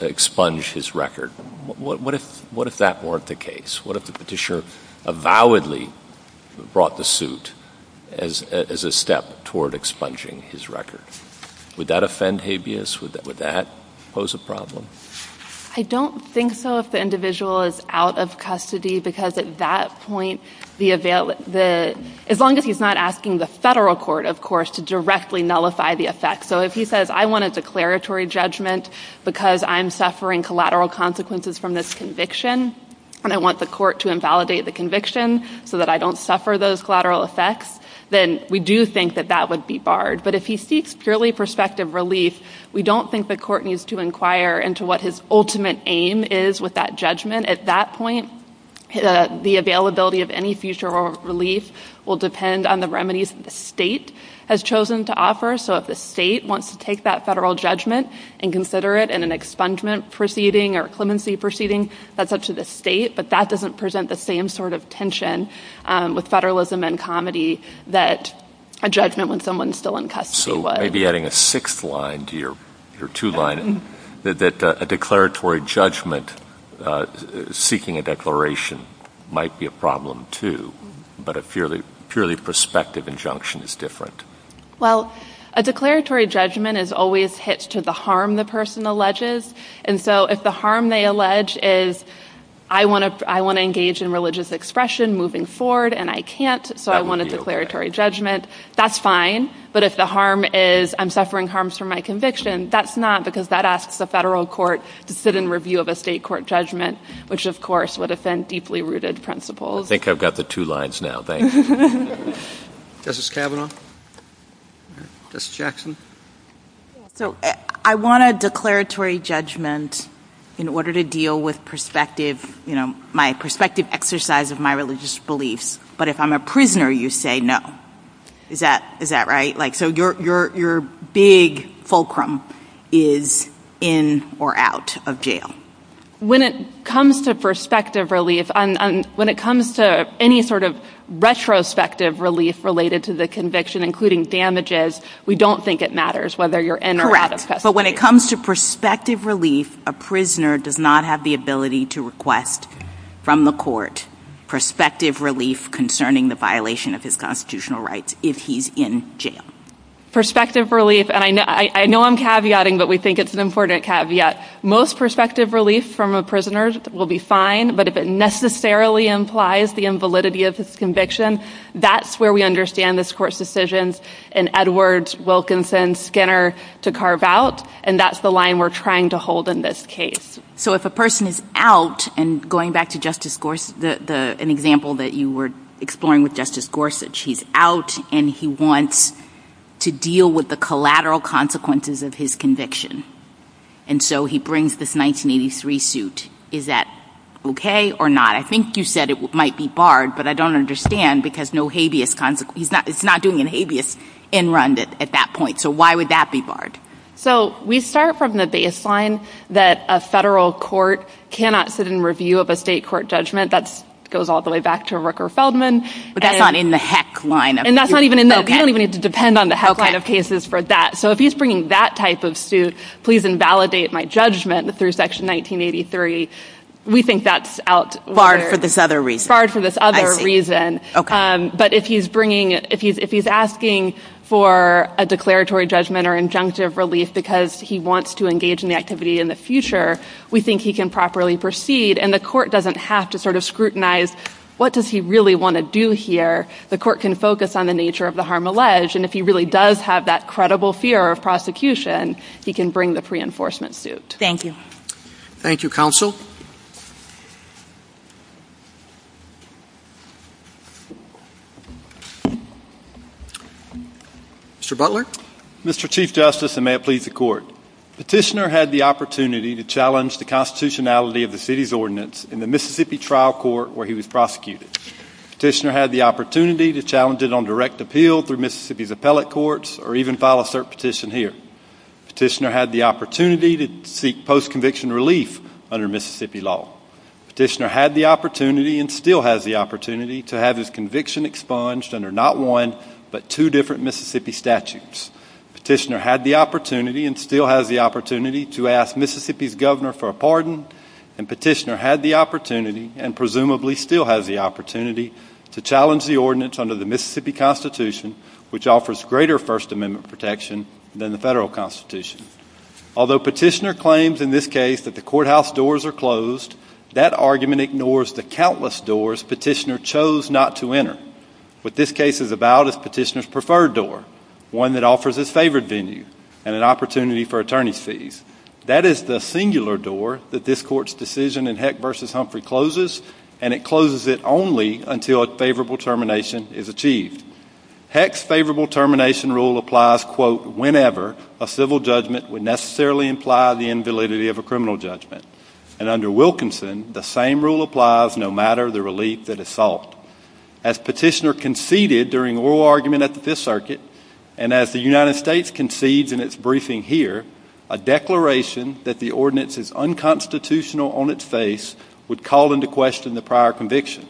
expunge his record. What if that weren't the case? What if the petitioner avowedly brought the suit as a step toward expunging his record? Would that offend habeas? Would that pose a problem? I don't think so if the individual is out of custody, because at that point, as long as he's not asking the federal court, of course, to directly nullify the effect. So if he says, I want a declaratory judgment because I'm suffering collateral consequences from this conviction and I want the court to invalidate the conviction so that I don't suffer those collateral effects, then we do think that that would be barred. But if he seeks purely prospective relief, we don't think the court needs to inquire into what his ultimate aim is with that judgment. At that point, the availability of any future relief will depend on the remedies the state has chosen to offer. So if the state wants to take that federal judgment and consider it in an expungement proceeding or a clemency proceeding, that's up to the state. But that doesn't present the same sort of tension with federalism and comedy that a judgment when someone's still in custody would. So maybe adding a sixth line to your two-line, that a declaratory judgment seeking a declaration might be a problem, too, but a purely prospective injunction is different. Well, a declaratory judgment is always hitched to the harm the person alleges. And so if the harm they allege is I want to engage in religious expression moving forward and I can't, so I want a declaratory judgment, that's fine. But if the harm is I'm suffering harms from my conviction, that's not because that asks the federal court to sit in review of a state court judgment, which, of course, would have been deeply rooted principles. I think I've got the two lines now. Justice Kavanaugh? Justice Jackson? I want a declaratory judgment in order to deal with my prospective exercise of my religious beliefs. But if I'm a prisoner, you say no. Is that right? So your big fulcrum is in or out of jail. When it comes to prospective relief, when it comes to any sort of retrospective relief related to the conviction, including damages, we don't think it matters whether you're in or out. But when it comes to prospective relief, a prisoner does not have the ability to request from the court prospective relief concerning the violation of his constitutional rights if he's in jail. Prospective relief, and I know I'm caveating, but we think it's an important caveat. Most prospective relief from a prisoner will be fine, but if it necessarily implies the invalidity of his conviction, that's where we understand this court's decision in Edwards, Wilkinson, Skinner to carve out, and that's the line we're trying to hold in this case. So if a person is out, and going back to an example that you were exploring with Justice Gorsuch, he's out and he wants to deal with the collateral consequences of his conviction. And so he brings this 1983 suit. Is that okay or not? I think you said it might be barred, but I don't understand because he's not doing a habeas in run at that point. So why would that be barred? So we start from the baseline that a federal court cannot sit in review of a state court judgment. That goes all the way back to Rooker-Feldman. But that's not in the heck line of cases. And that's not even in that. You don't even need to depend on the heck line of cases for that. So if he's bringing that type of suit, please invalidate my judgment through Section 1983. We think that's out there. Barred for this other reason. Barred for this other reason. But if he's bringing it, if he's asking for a declaratory judgment or injunctive relief because he wants to engage in the activity in the future, we think he can properly proceed, and the court doesn't have to sort of scrutinize what does he really want to do here. The court can focus on the nature of the harm alleged, and if he really does have that credible fear of prosecution, he can bring the pre-enforcement suit. Thank you. Thank you, counsel. Mr. Butler. Mr. Chief Justice, and may it please the Court. Petitioner had the opportunity to challenge the constitutionality of the city's ordinance in the Mississippi trial court where he was prosecuted. Petitioner had the opportunity to challenge it on direct appeal through Mississippi's appellate courts or even file a cert petition here. Petitioner had the opportunity to seek post-conviction relief under Mississippi law. Petitioner had the opportunity and still has the opportunity to have his conviction expunged under not one but two different Mississippi statutes. Petitioner had the opportunity and still has the opportunity to ask Mississippi's governor for a pardon, and Petitioner had the opportunity and presumably still has the opportunity to challenge the ordinance under the Mississippi constitution, which offers greater First Amendment protection than the federal constitution. Although Petitioner claims in this case that the courthouse doors are closed, that argument ignores the countless doors Petitioner chose not to enter. What this case is about is Petitioner's preferred door, one that offers a favored venue and an opportunity for attorney's fees. That is the singular door that this court's decision in Heck v. Humphrey closes, and it closes it only until a favorable termination is achieved. Heck's favorable termination rule applies, quote, whenever a civil judgment would necessarily imply the invalidity of a criminal judgment. And under Wilkinson, the same rule applies no matter the relief that is sought. As Petitioner conceded during oral argument at the Fifth Circuit, and as the United States concedes in its briefing here, a declaration that the ordinance is unconstitutional on its face would call into question the prior conviction.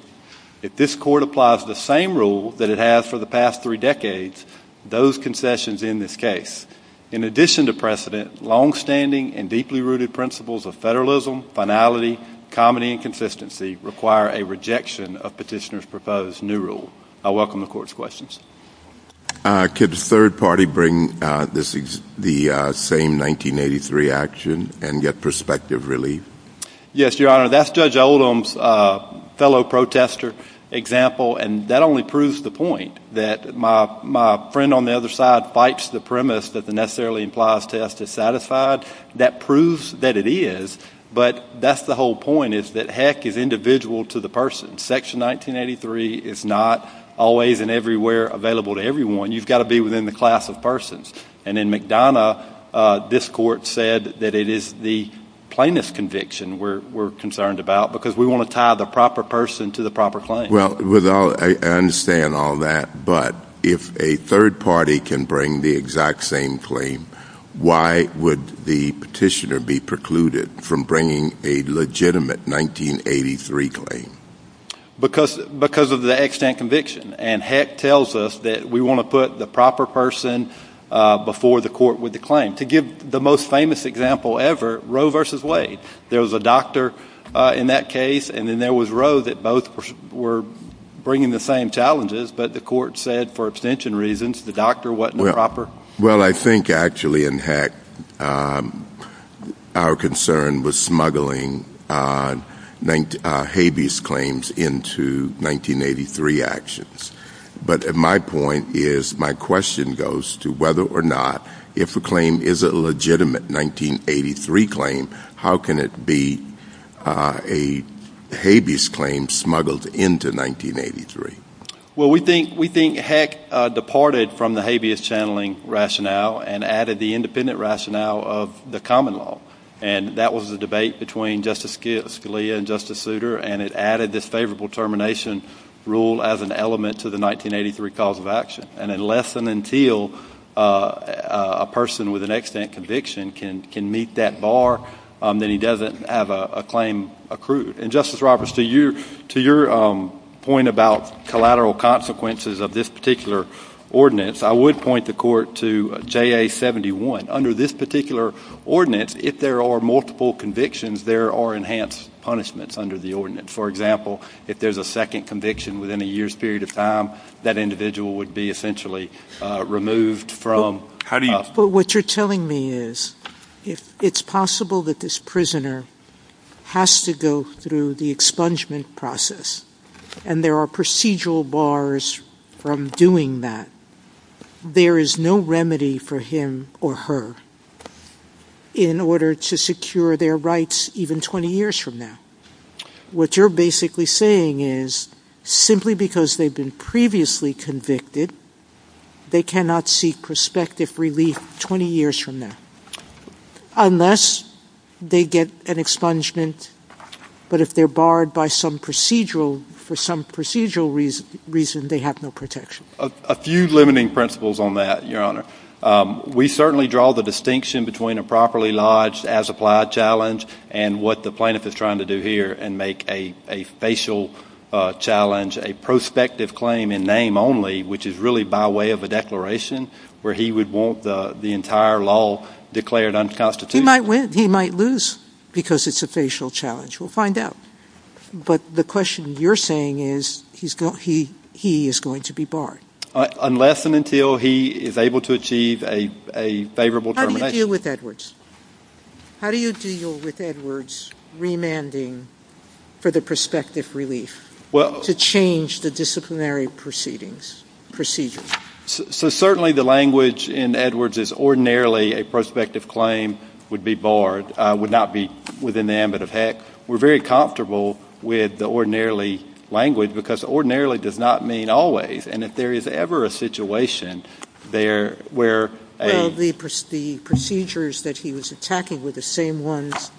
If this court applies the same rule that it has for the past three decades, those concessions in this case, in addition to precedent, longstanding and deeply rooted principles of federalism, finality, comity, and consistency require a rejection of Petitioner's proposed new rule. I welcome the court's questions. Could the third party bring the same 1983 action and get prospective relief? Yes, Your Honor. That's Judge Oldham's fellow protester example, and that only proves the point that my friend on the other side fights the premise that the necessarily implies test is satisfied. That proves that it is, but that's the whole point, is that Heck is individual to the person. Section 1983 is not always and everywhere available to everyone. You've got to be within the class of persons. And in McDonough, this court said that it is the plainest conviction we're concerned about because we want to tie the proper person to the proper claim. Well, I understand all that, but if a third party can bring the exact same claim, why would the Petitioner be precluded from bringing a legitimate 1983 claim? Because of the extant conviction, and Heck tells us that we want to put the proper person before the court with the claim. To give the most famous example ever, Roe v. Wade. There was a doctor in that case, and then there was Roe that both were bringing the same challenges, but the court said for abstention reasons the doctor wasn't proper. Well, I think actually in Heck our concern was smuggling habeas claims into 1983 actions. But my point is, my question goes to whether or not if a claim is a legitimate 1983 claim, how can it be a habeas claim smuggled into 1983? Well, we think Heck departed from the habeas channeling rationale and added the independent rationale of the common law. And that was a debate between Justice Scalia and Justice Souter, and it added the favorable termination rule as an element to the 1983 cause of action. And unless and until a person with an extant conviction can meet that bar, then he doesn't have a claim accrued. And, Justice Roberts, to your point about collateral consequences of this particular ordinance, I would point the court to JA-71. Under this particular ordinance, if there are multiple convictions, there are enhanced punishments under the ordinance. For example, if there's a second conviction within a year's period of time, that individual would be essentially removed from... But what you're telling me is, if it's possible that this prisoner has to go through the expungement process and there are procedural bars from doing that, there is no remedy for him or her in order to secure their rights even 20 years from now. What you're basically saying is, simply because they've been previously convicted, they cannot seek prospective relief 20 years from now, unless they get an expungement, but if they're barred for some procedural reason, they have no protection. A few limiting principles on that, Your Honor. We certainly draw the distinction between a properly lodged as-applied challenge and what the plaintiff is trying to do here and make a facial challenge, a prospective claim in name only, which is really by way of a declaration, where he would want the entire law declared unconstitutional. He might lose because it's a facial challenge. We'll find out. But the question you're saying is, he is going to be barred. Unless and until he is able to achieve a favorable termination. How do you deal with Edwards? Certainly the language in Edwards is ordinarily a prospective claim would be barred, would not be within the ambit of heck. We're very comfortable with the ordinarily language, because ordinarily does not mean always. And if there is ever a situation where a- Well, the procedures that he was attacking were the same ones that he was using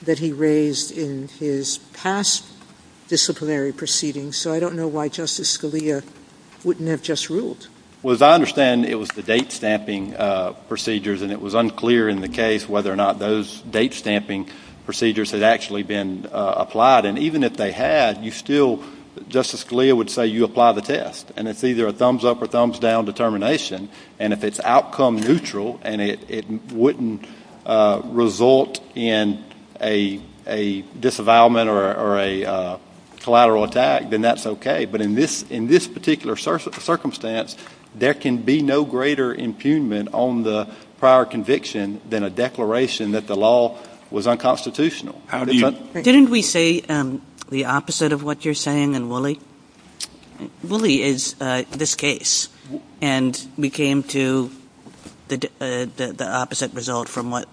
that he raised in his past disciplinary proceedings. So I don't know why Justice Scalia wouldn't have just ruled. Well, as I understand, it was the date-stamping procedures, and it was unclear in the case whether or not those date-stamping procedures had actually been applied. And even if they had, you still, Justice Scalia would say, you apply the test. And it's either a thumbs-up or thumbs-down determination. And if it's outcome neutral and it wouldn't result in a disavowalment or a collateral attack, then that's okay. But in this particular circumstance, there can be no greater impugnment on the prior conviction than a declaration that the law was unconstitutional. Didn't we say the opposite of what you're saying in Woolley? Woolley is this case. And we came to the opposite result from what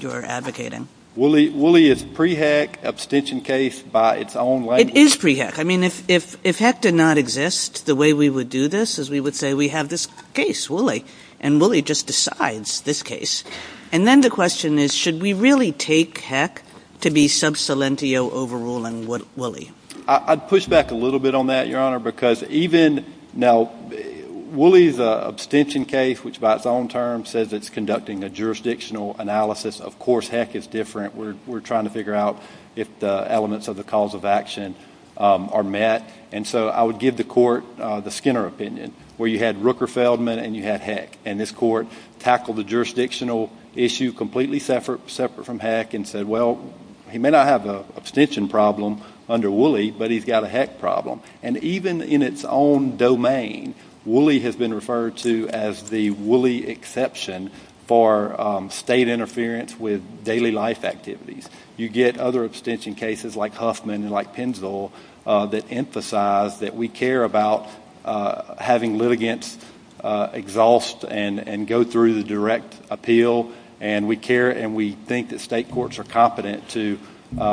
you're advocating. Woolley is a pre-HECK abstention case by its own language. It is pre-HECK. I mean, if HECK did not exist, the way we would do this is we would say we have this case, Woolley, and Woolley just decides this case. And then the question is, should we really take HECK to be sub salientio overruling Woolley? I'd push back a little bit on that, Your Honor, because even now Woolley's abstention case, which by its own terms says it's conducting a jurisdictional analysis, of course HECK is different. We're trying to figure out if the elements of the cause of action are met. And so I would give the court the Skinner opinion, where you had Rooker Feldman and you had HECK. And this court tackled the jurisdictional issue completely separate from HECK and said, well, he may not have an abstention problem under Woolley, but he's got a HECK problem. And even in its own domain, Woolley has been referred to as the Woolley exception for state interference with daily life activities. You get other abstention cases like Huffman and like Penzl that emphasize that we care about having litigants exhaust and go through the direct appeal. And we care and we think that state courts are competent to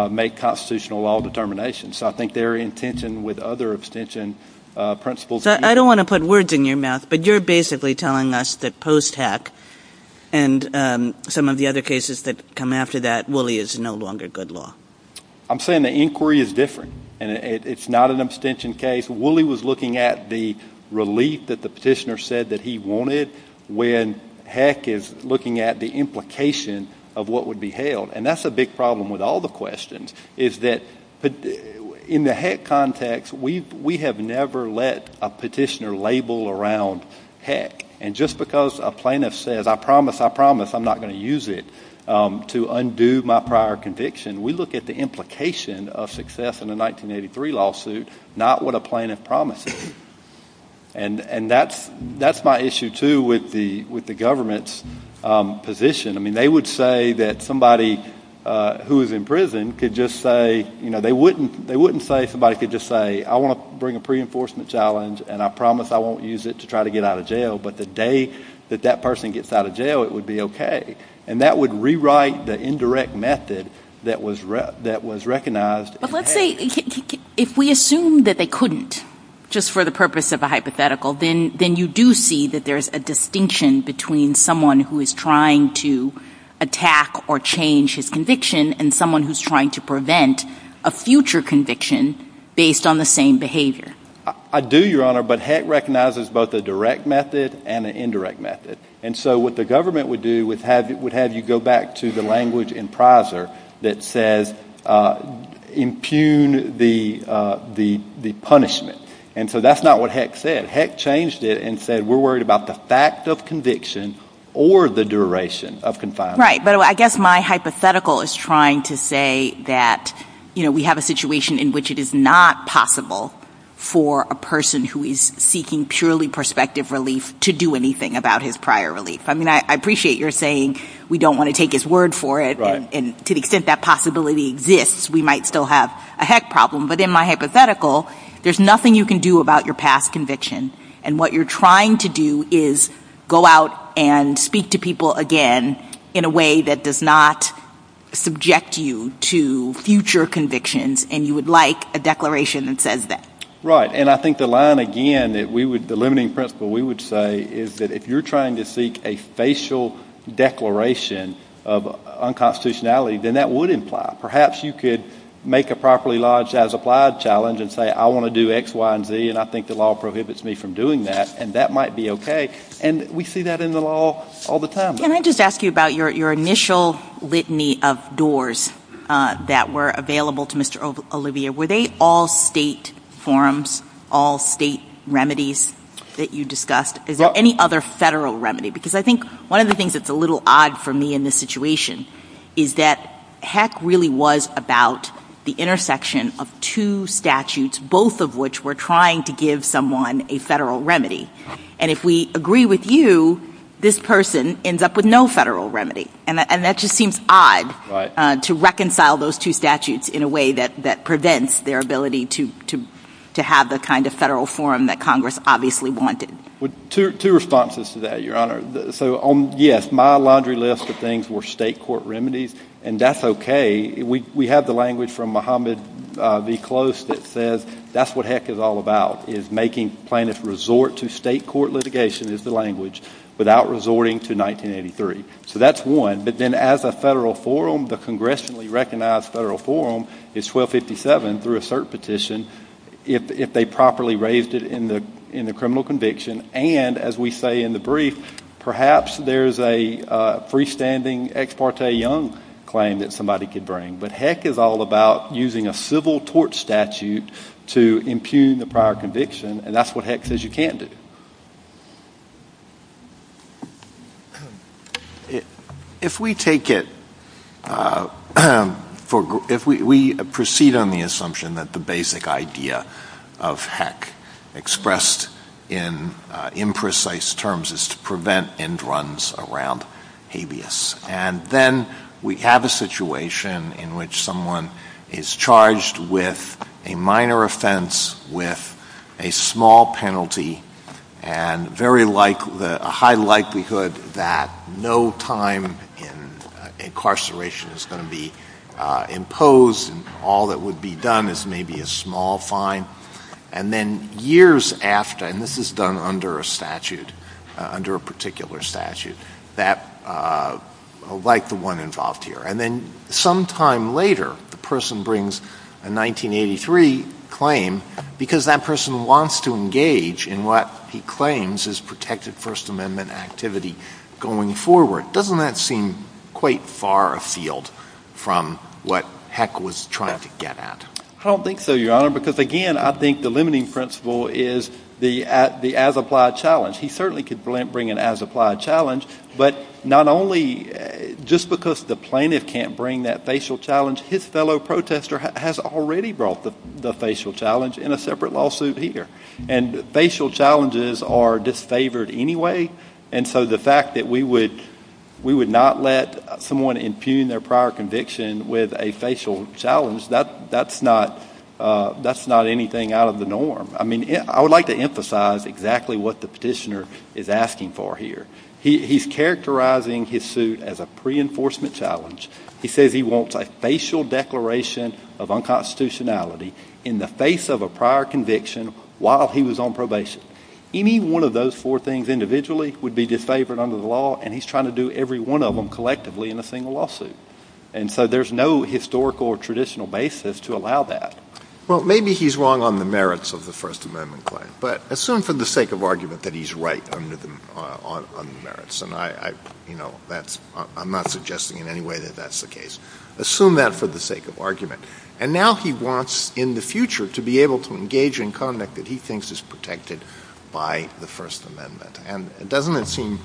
make constitutional law determinations. So I think they're in tension with other abstention principles. I don't want to put words in your mouth, but you're basically telling us that post HECK and some of the other cases that come after that, Woolley is no longer good law. I'm saying the inquiry is different, and it's not an abstention case. Woolley was looking at the relief that the petitioner said that he wanted when HECK is looking at the implication of what would be held. And that's a big problem with all the questions is that in the HECK context, we have never let a petitioner label around HECK. And just because a plaintiff says, I promise, I promise, I'm not going to use it to undo my prior conviction, we look at the implication of success in a 1983 lawsuit, not what a plaintiff promises. And that's my issue, too, with the government's position. I mean, they would say that somebody who is in prison could just say, you know, they wouldn't say somebody could just say, I want to bring a pre-enforcement challenge and I promise I won't use it to try to get out of jail, but the day that that person gets out of jail, it would be okay. And that would rewrite the indirect method that was recognized in HECK. But let's say if we assume that they couldn't just for the purpose of a hypothetical, then you do see that there's a distinction between someone who is trying to attack or change his conviction and someone who's trying to prevent a future conviction based on the same behavior. I do, Your Honor, but HECK recognizes both a direct method and an indirect method. And so what the government would do would have you go back to the language in PRISER that says impugn the punishment. And so that's not what HECK said. HECK changed it and said we're worried about the fact of conviction or the duration of confinement. Right, but I guess my hypothetical is trying to say that, you know, we have a situation in which it is not possible for a person who is seeking purely prospective relief to do anything about his prior relief. I mean, I appreciate your saying we don't want to take his word for it, and to the extent that possibility exists, we might still have a HECK problem. But in my hypothetical, there's nothing you can do about your past conviction, and what you're trying to do is go out and speak to people again in a way that does not subject you to future convictions, and you would like a declaration that says that. Right, and I think the line again, the limiting principle we would say, is that if you're trying to seek a facial declaration of unconstitutionality, then that would imply. Perhaps you could make a properly lodged as applied challenge and say I want to do X, Y, and Z, and I think the law prohibits me from doing that, and that might be okay. And we see that in the law all the time. Can I just ask you about your initial litany of doors that were available to Mr. Olivia? Were they all state forms, all state remedies that you discussed? Is there any other federal remedy? Because I think one of the things that's a little odd for me in this situation is that HECK really was about the intersection of two statutes, both of which were trying to give someone a federal remedy. And if we agree with you, this person ends up with no federal remedy, and that just seems odd to reconcile those two statutes in a way that prevents their ability to have the kind of federal form that Congress obviously wanted. Two responses to that, Your Honor. So, yes, my laundry list of things were state court remedies, and that's okay. We have the language from Mohammed B. Close that says that's what HECK is all about, is making plaintiffs resort to state court litigation is the language, without resorting to 1983. So that's one. But then as a federal forum, the congressionally recognized federal forum is 1257, through a cert petition, if they properly raised it in the criminal conviction. And, as we say in the brief, perhaps there's a freestanding ex parte young claim that somebody could bring. But HECK is all about using a civil tort statute to impugn the prior conviction, and that's what HECK says you can't do. If we take it, if we proceed on the assumption that the basic idea of HECK expressed in imprecise terms is to prevent end runs around habeas, and then we have a situation in which someone is charged with a minor offense with a small penalty and a high likelihood that no time in incarceration is going to be imposed and all that would be done is maybe a small fine, and then years after, and this is done under a statute, under a particular statute, like the one involved here, and then sometime later the person brings a 1983 claim because that person wants to engage in what he claims is protected First Amendment activity going forward. Doesn't that seem quite far afield from what HECK was trying to get at? I don't think so, Your Honor, because, again, I think the limiting principle is the as-applied challenge. He certainly could bring an as-applied challenge, but not only just because the plaintiff can't bring that facial challenge, his fellow protester has already brought the facial challenge in a separate lawsuit here. And facial challenges are disfavored anyway, and so the fact that we would not let someone impugn their prior conviction with a facial challenge, that's not anything out of the norm. I mean, I would like to emphasize exactly what the petitioner is asking for here. He's characterizing his suit as a pre-enforcement challenge. He says he wants a facial declaration of unconstitutionality in the face of a prior conviction while he was on probation. Any one of those four things individually would be disfavored under the law, and he's trying to do every one of them collectively in a single lawsuit. And so there's no historical or traditional basis to allow that. Well, maybe he's wrong on the merits of the First Amendment claim, but assume for the sake of argument that he's right on the merits, and I'm not suggesting in any way that that's the case. Assume that for the sake of argument. And now he wants in the future to be able to engage in conduct that he thinks is protected by the First Amendment. And doesn't it seem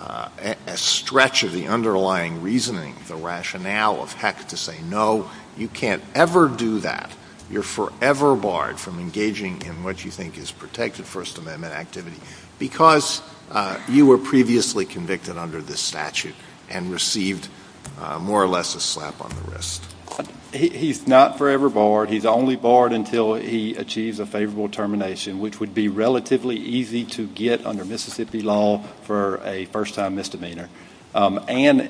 a stretch of the underlying reasoning, the rationale of Heck to say, no, you can't ever do that. You're forever barred from engaging in what you think is protected First Amendment activity because you were previously convicted under this statute and received more or less a slap on the wrist. He's not forever barred. He's only barred until he achieves a favorable termination, which would be relatively easy to get under Mississippi law for a first-time misdemeanor. And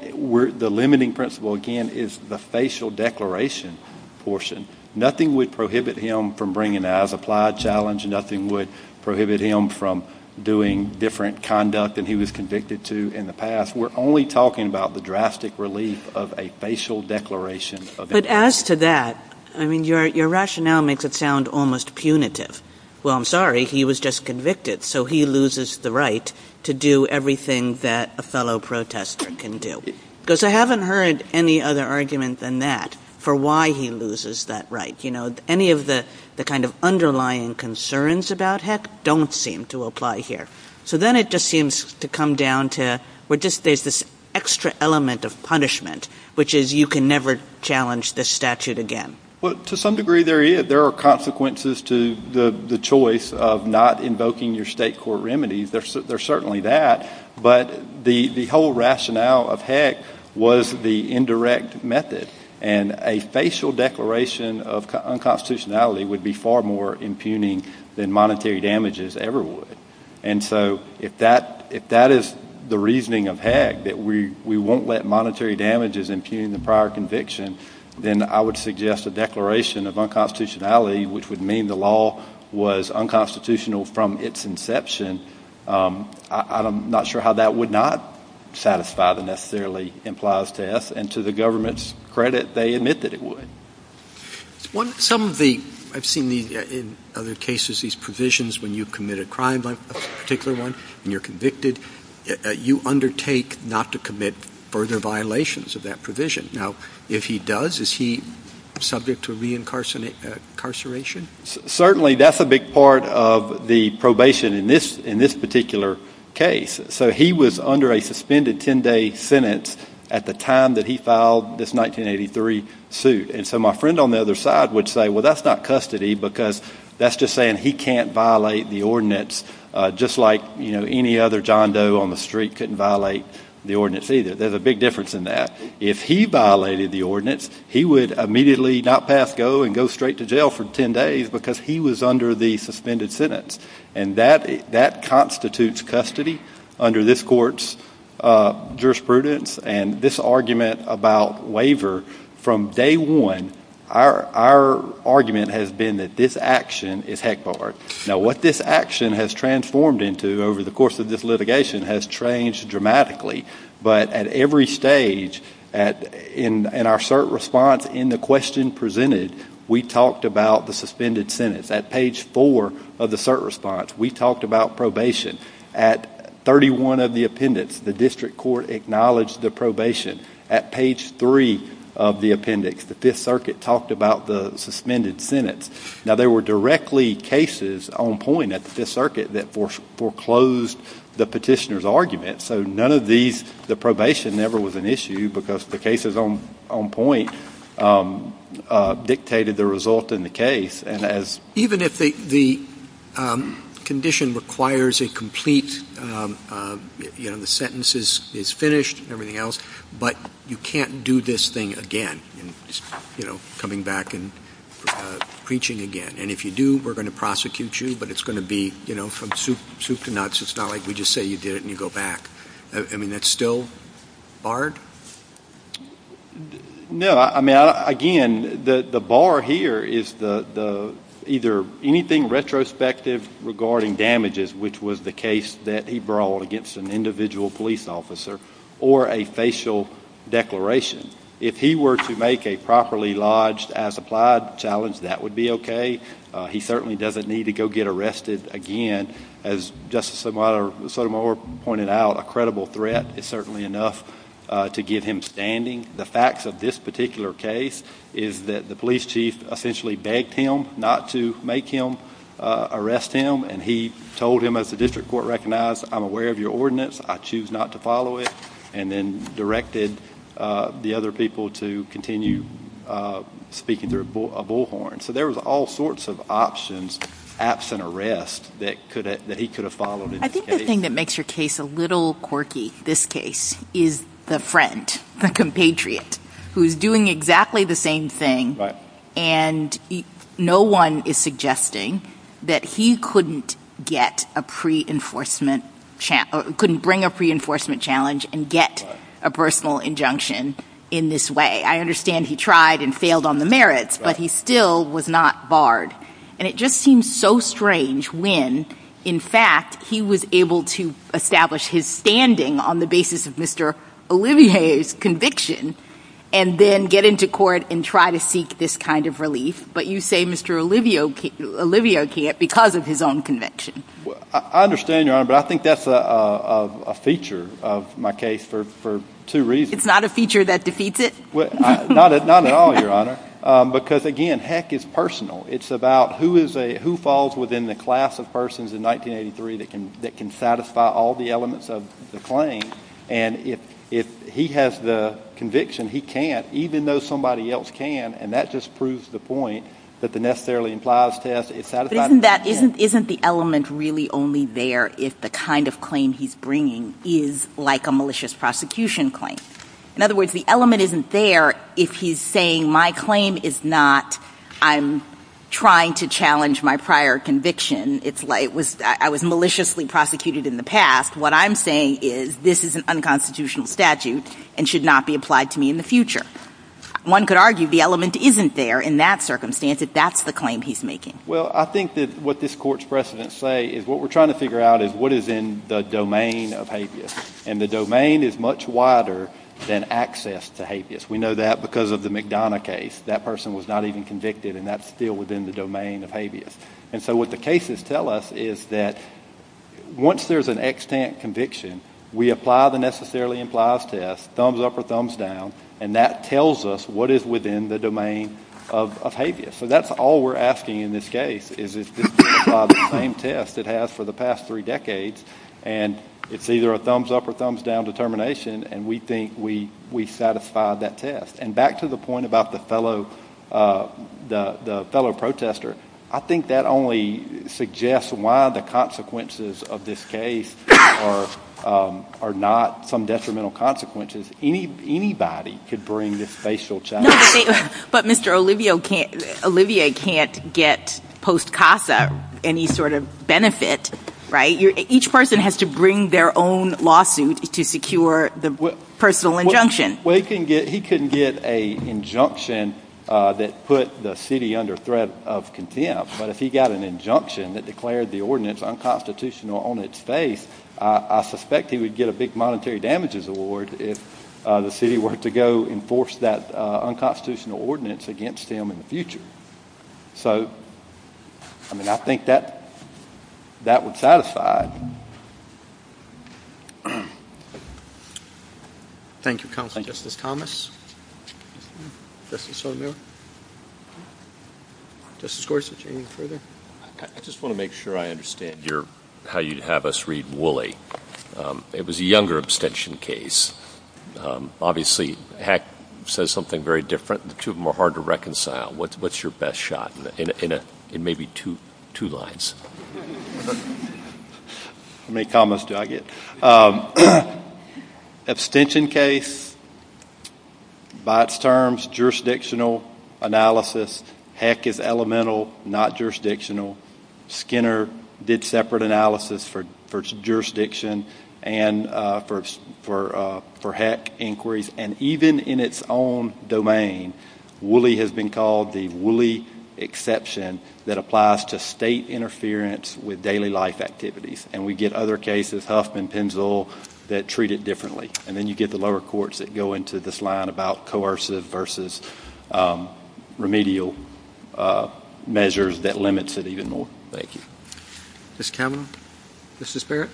the limiting principle, again, is the facial declaration portion. Nothing would prohibit him from bringing as applied challenge. Nothing would prohibit him from doing different conduct than he was convicted to in the past. We're only talking about the drastic relief of a facial declaration. But as to that, I mean, your rationale makes it sound almost punitive. Well, I'm sorry. He was just convicted. So he loses the right to do everything that a fellow protester can do. Because I haven't heard any other argument than that for why he loses that right. You know, any of the kind of underlying concerns about Heck don't seem to apply here. So then it just seems to come down to where there's this extra element of punishment, which is you can never challenge this statute again. Well, to some degree there is. There are consequences to the choice of not invoking your state court remedies. There's certainly that. But the whole rationale of Heck was the indirect method. And a facial declaration of unconstitutionality would be far more impugning than monetary damages ever would. And so if that is the reasoning of Heck, that we won't let monetary damages impugn the prior conviction, then I would suggest a declaration of unconstitutionality, which would mean the law was unconstitutional from its inception. I'm not sure how that would not satisfy the necessarily implies test. And to the government's credit, they admit that it would. Some of the – I've seen in other cases these provisions when you commit a crime, like this particular one, and you're convicted, you undertake not to commit further violations of that provision. Now, if he does, is he subject to reincarceration? Certainly that's a big part of the probation in this particular case. So he was under a suspended 10-day sentence at the time that he filed this 1983 suit. And so my friend on the other side would say, well, that's not custody, because that's just saying he can't violate the ordinance just like, you know, any other John Doe on the street couldn't violate the ordinance either. There's a big difference in that. If he violated the ordinance, he would immediately not pass go and go straight to jail for 10 days because he was under the suspended sentence. And that constitutes custody under this court's jurisprudence. And this argument about waiver from day one, our argument has been that this action is heck-barred. Now, what this action has transformed into over the course of this litigation has changed dramatically. But at every stage in our cert response, in the question presented, we talked about the suspended sentence. At page four of the cert response, we talked about probation. At 31 of the appendix, the district court acknowledged the probation. At page three of the appendix, the Fifth Circuit talked about the suspended sentence. Now, there were directly cases on point at the Fifth Circuit that foreclosed the petitioner's argument. So none of these, the probation never was an issue because the cases on point dictated the result in the case. Even if the condition requires a complete, you know, the sentence is finished and everything else, but you can't do this thing again, you know, coming back and preaching again. And if you do, we're going to prosecute you, but it's going to be, you know, from soup to nuts. It's not like we just say you did it and you go back. I mean, that's still barred? No, I mean, again, the bar here is either anything retrospective regarding damages, which was the case that he brawled against an individual police officer, or a facial declaration. If he were to make a properly lodged as applied challenge, that would be okay. He certainly doesn't need to go get arrested again. As Justice Sotomayor pointed out, a credible threat is certainly enough to get him standing. The facts of this particular case is that the police chief essentially begged him not to make him arrest him, and he told him, as the district court recognized, I'm aware of your ordinance, I choose not to follow it, and then directed the other people to continue speaking through a bullhorn. So there was all sorts of options, absent arrest, that he could have followed. I think the thing that makes your case a little quirky, this case, is the friend, the compatriot, who's doing exactly the same thing, and no one is suggesting that he couldn't get a pre-enforcement challenge, couldn't bring a pre-enforcement challenge and get a personal injunction in this way. I understand he tried and failed on the merits, but he still was not barred. And it just seems so strange when, in fact, he was able to establish his standing on the basis of Mr. Olivier's conviction, and then get into court and try to seek this kind of relief, but you say Mr. Olivier can't because of his own conviction. I understand, Your Honor, but I think that's a feature of my case for two reasons. It's not a feature that defeats it? Not at all, Your Honor, because, again, heck, it's personal. It's about who falls within the class of persons in 1983 that can satisfy all the elements of the claim, and if he has the conviction, he can't, even though somebody else can, and that just proves the point that the necessarily implies test is satisfying. Isn't the element really only there if the kind of claim he's bringing is like a malicious prosecution claim? In other words, the element isn't there if he's saying my claim is not I'm trying to challenge my prior conviction. It's like I was maliciously prosecuted in the past. What I'm saying is this is an unconstitutional statute and should not be applied to me in the future. One could argue the element isn't there in that circumstance if that's the claim he's making. Well, I think that what this Court's precedents say is what we're trying to figure out is what is in the domain of habeas, and the domain is much wider than access to habeas. We know that because of the McDonough case. That person was not even convicted, and that's still within the domain of habeas. And so what the cases tell us is that once there's an extant conviction, we apply the necessarily implies test, thumbs up or thumbs down, and that tells us what is within the domain of habeas. So that's all we're asking in this case is to satisfy the same test it has for the past three decades, and it's either a thumbs up or thumbs down determination, and we think we've satisfied that test. And back to the point about the fellow protester, I think that only suggests why the consequences of this case are not some detrimental consequences. Anybody could bring this facial challenge. But Mr. Olivier can't get post-CASA any sort of benefit, right? Each person has to bring their own lawsuit to secure the personal injunction. Well, he couldn't get an injunction that put the city under threat of contempt, but if he got an injunction that declared the ordinance unconstitutional on its face, I suspect he would get a big monetary damages award if the city were to go enforce that unconstitutional ordinance against him in the future. So, I mean, I think that would satisfy. Thank you, Counselor. Thank you, Justice Thomas. Justice O'Neill. Justice Gorsuch, anything further? I just want to make sure I understand how you'd have us read Woolley. It was a younger abstention case. Obviously, Heck says something very different, and the two of them are hard to reconcile. What's your best shot in maybe two lines? How many commas do I get? Abstention case, by its terms, jurisdictional analysis. Heck is elemental, not jurisdictional. Skinner did separate analysis for jurisdiction and for Heck inquiries. And even in its own domain, Woolley has been called the Woolley exception that applies to state interference with daily life activities. And we get other cases, Huffman, Penzl, that treat it differently. And then you get the lower courts that go into this line about coercive versus remedial measures that limits it even more. Thank you. Ms. Cameron? Mrs. Barrett?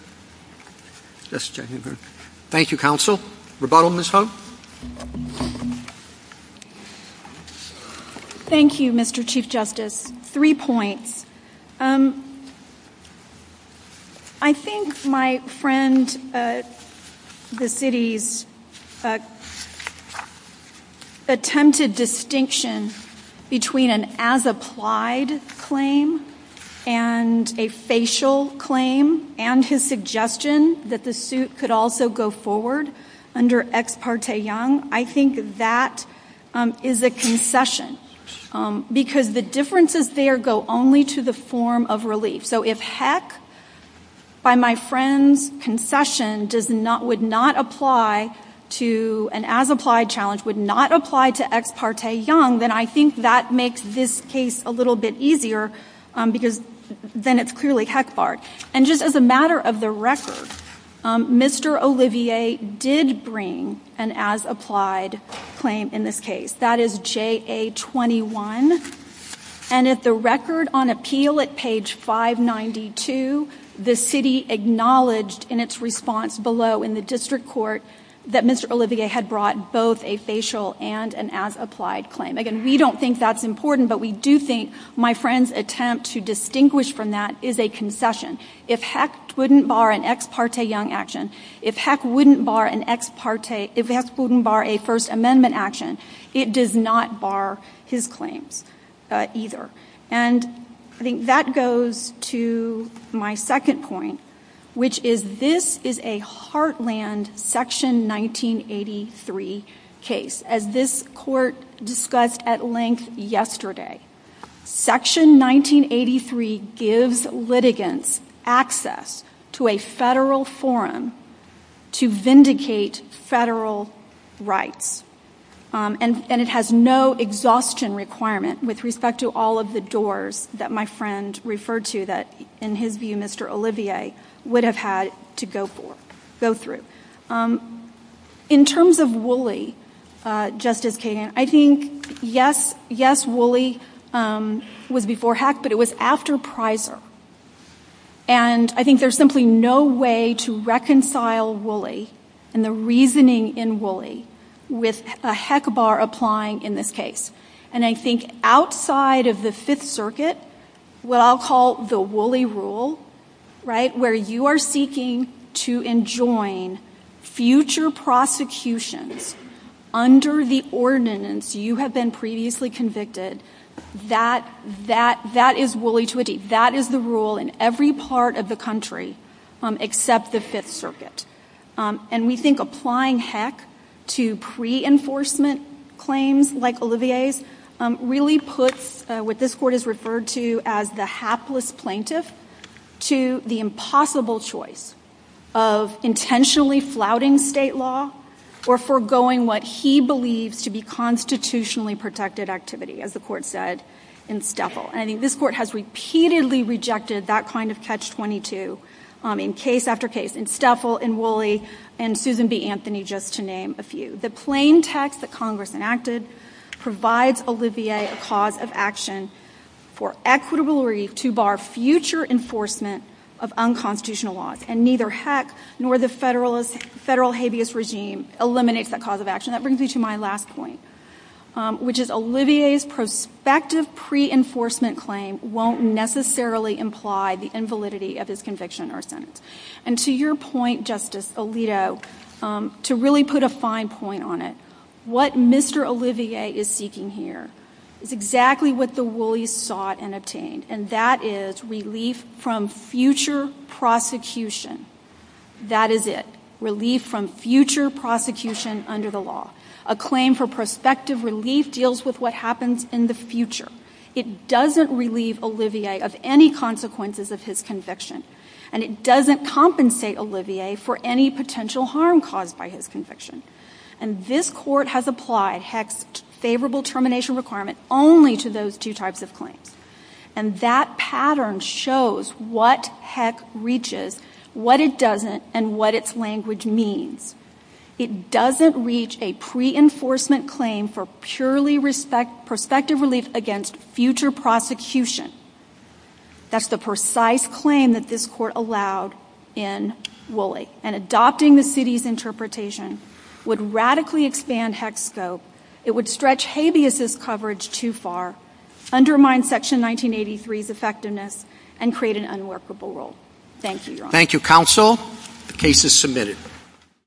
Thank you, Counsel. Rebuttal, Ms. Huff? Thank you, Mr. Chief Justice. Three points. I think my friend, the city's attempted distinction between an as-applied claim and a facial claim and his suggestion that the suit could also go forward under Ex Parte Young, I think that is a concession. Because the differences there go only to the form of relief. So if Heck, by my friend's confession, would not apply to an as-applied challenge, would not apply to Ex Parte Young, then I think that makes this case a little bit easier because then it's clearly Heck-barred. And just as a matter of the record, Mr. Olivier did bring an as-applied claim in this case. That is JA-21. And at the record on appeal at page 592, the city acknowledged in its response below in the district court that Mr. Olivier had brought both a facial and an as-applied claim. Again, we don't think that's important, but we do think my friend's attempt to distinguish from that is a concession. If Heck wouldn't bar an Ex Parte Young action, if Heck wouldn't bar a First Amendment action, it does not bar his claim either. And I think that goes to my second point, which is this is a heartland Section 1983 case. As this court discussed at length yesterday, Section 1983 gives litigants access to a federal forum to vindicate federal rights. And it has no exhaustion requirement with respect to all of the doors that my friend referred to that, in his view, Mr. Olivier would have had to go through. In terms of Woolley, Justice Kagan, I think, yes, Woolley was before Heck, but it was after Prizer. And I think there's simply no way to reconcile Woolley and the reasoning in Woolley with a Heck bar applying in this case. And I think outside of the Fifth Circuit, what I'll call the Woolley rule, right, where you are seeking to enjoin future prosecution under the ordinance you have been previously convicted, that is Woolley to a D. That is the rule in every part of the country except the Fifth Circuit. And we think applying Heck to pre-enforcement claims like Olivier's really puts what this court has referred to as the hapless plaintiff to the impossible choice of intentionally flouting state law or foregoing what he believes to be constitutionally protected activity, as the court said in Steffel. And this court has repeatedly rejected that kind of catch-22 in case after case in Steffel, in Woolley, and Susan B. Anthony, just to name a few. The plain text that Congress enacted provides Olivier a cause of action for equitable relief to bar future enforcement of unconstitutional laws. And neither Heck nor the federal habeas regime eliminates that cause of action. And that brings me to my last point, which is Olivier's prospective pre-enforcement claim won't necessarily imply the invalidity of his conviction or sentence. And to your point, Justice Alito, to really put a fine point on it, what Mr. Olivier is seeking here is exactly what the Woolleys sought and obtained, and that is relief from future prosecution. That is it. Relief from future prosecution under the law. A claim for prospective relief deals with what happens in the future. It doesn't relieve Olivier of any consequences of his conviction. And it doesn't compensate Olivier for any potential harm caused by his conviction. And this court has applied Heck's favorable termination requirement only to those two types of claims. And that pattern shows what Heck reaches, what it doesn't, and what its language means. It doesn't reach a pre-enforcement claim for purely prospective relief against future prosecution. That's the precise claim that this court allowed in Woolley. And adopting the city's interpretation would radically expand Heck's scope. It would stretch habeas' coverage too far, undermine Section 1983's effectiveness, and create an unworkable rule. Thank you, Your Honor. Thank you, counsel. The case is submitted.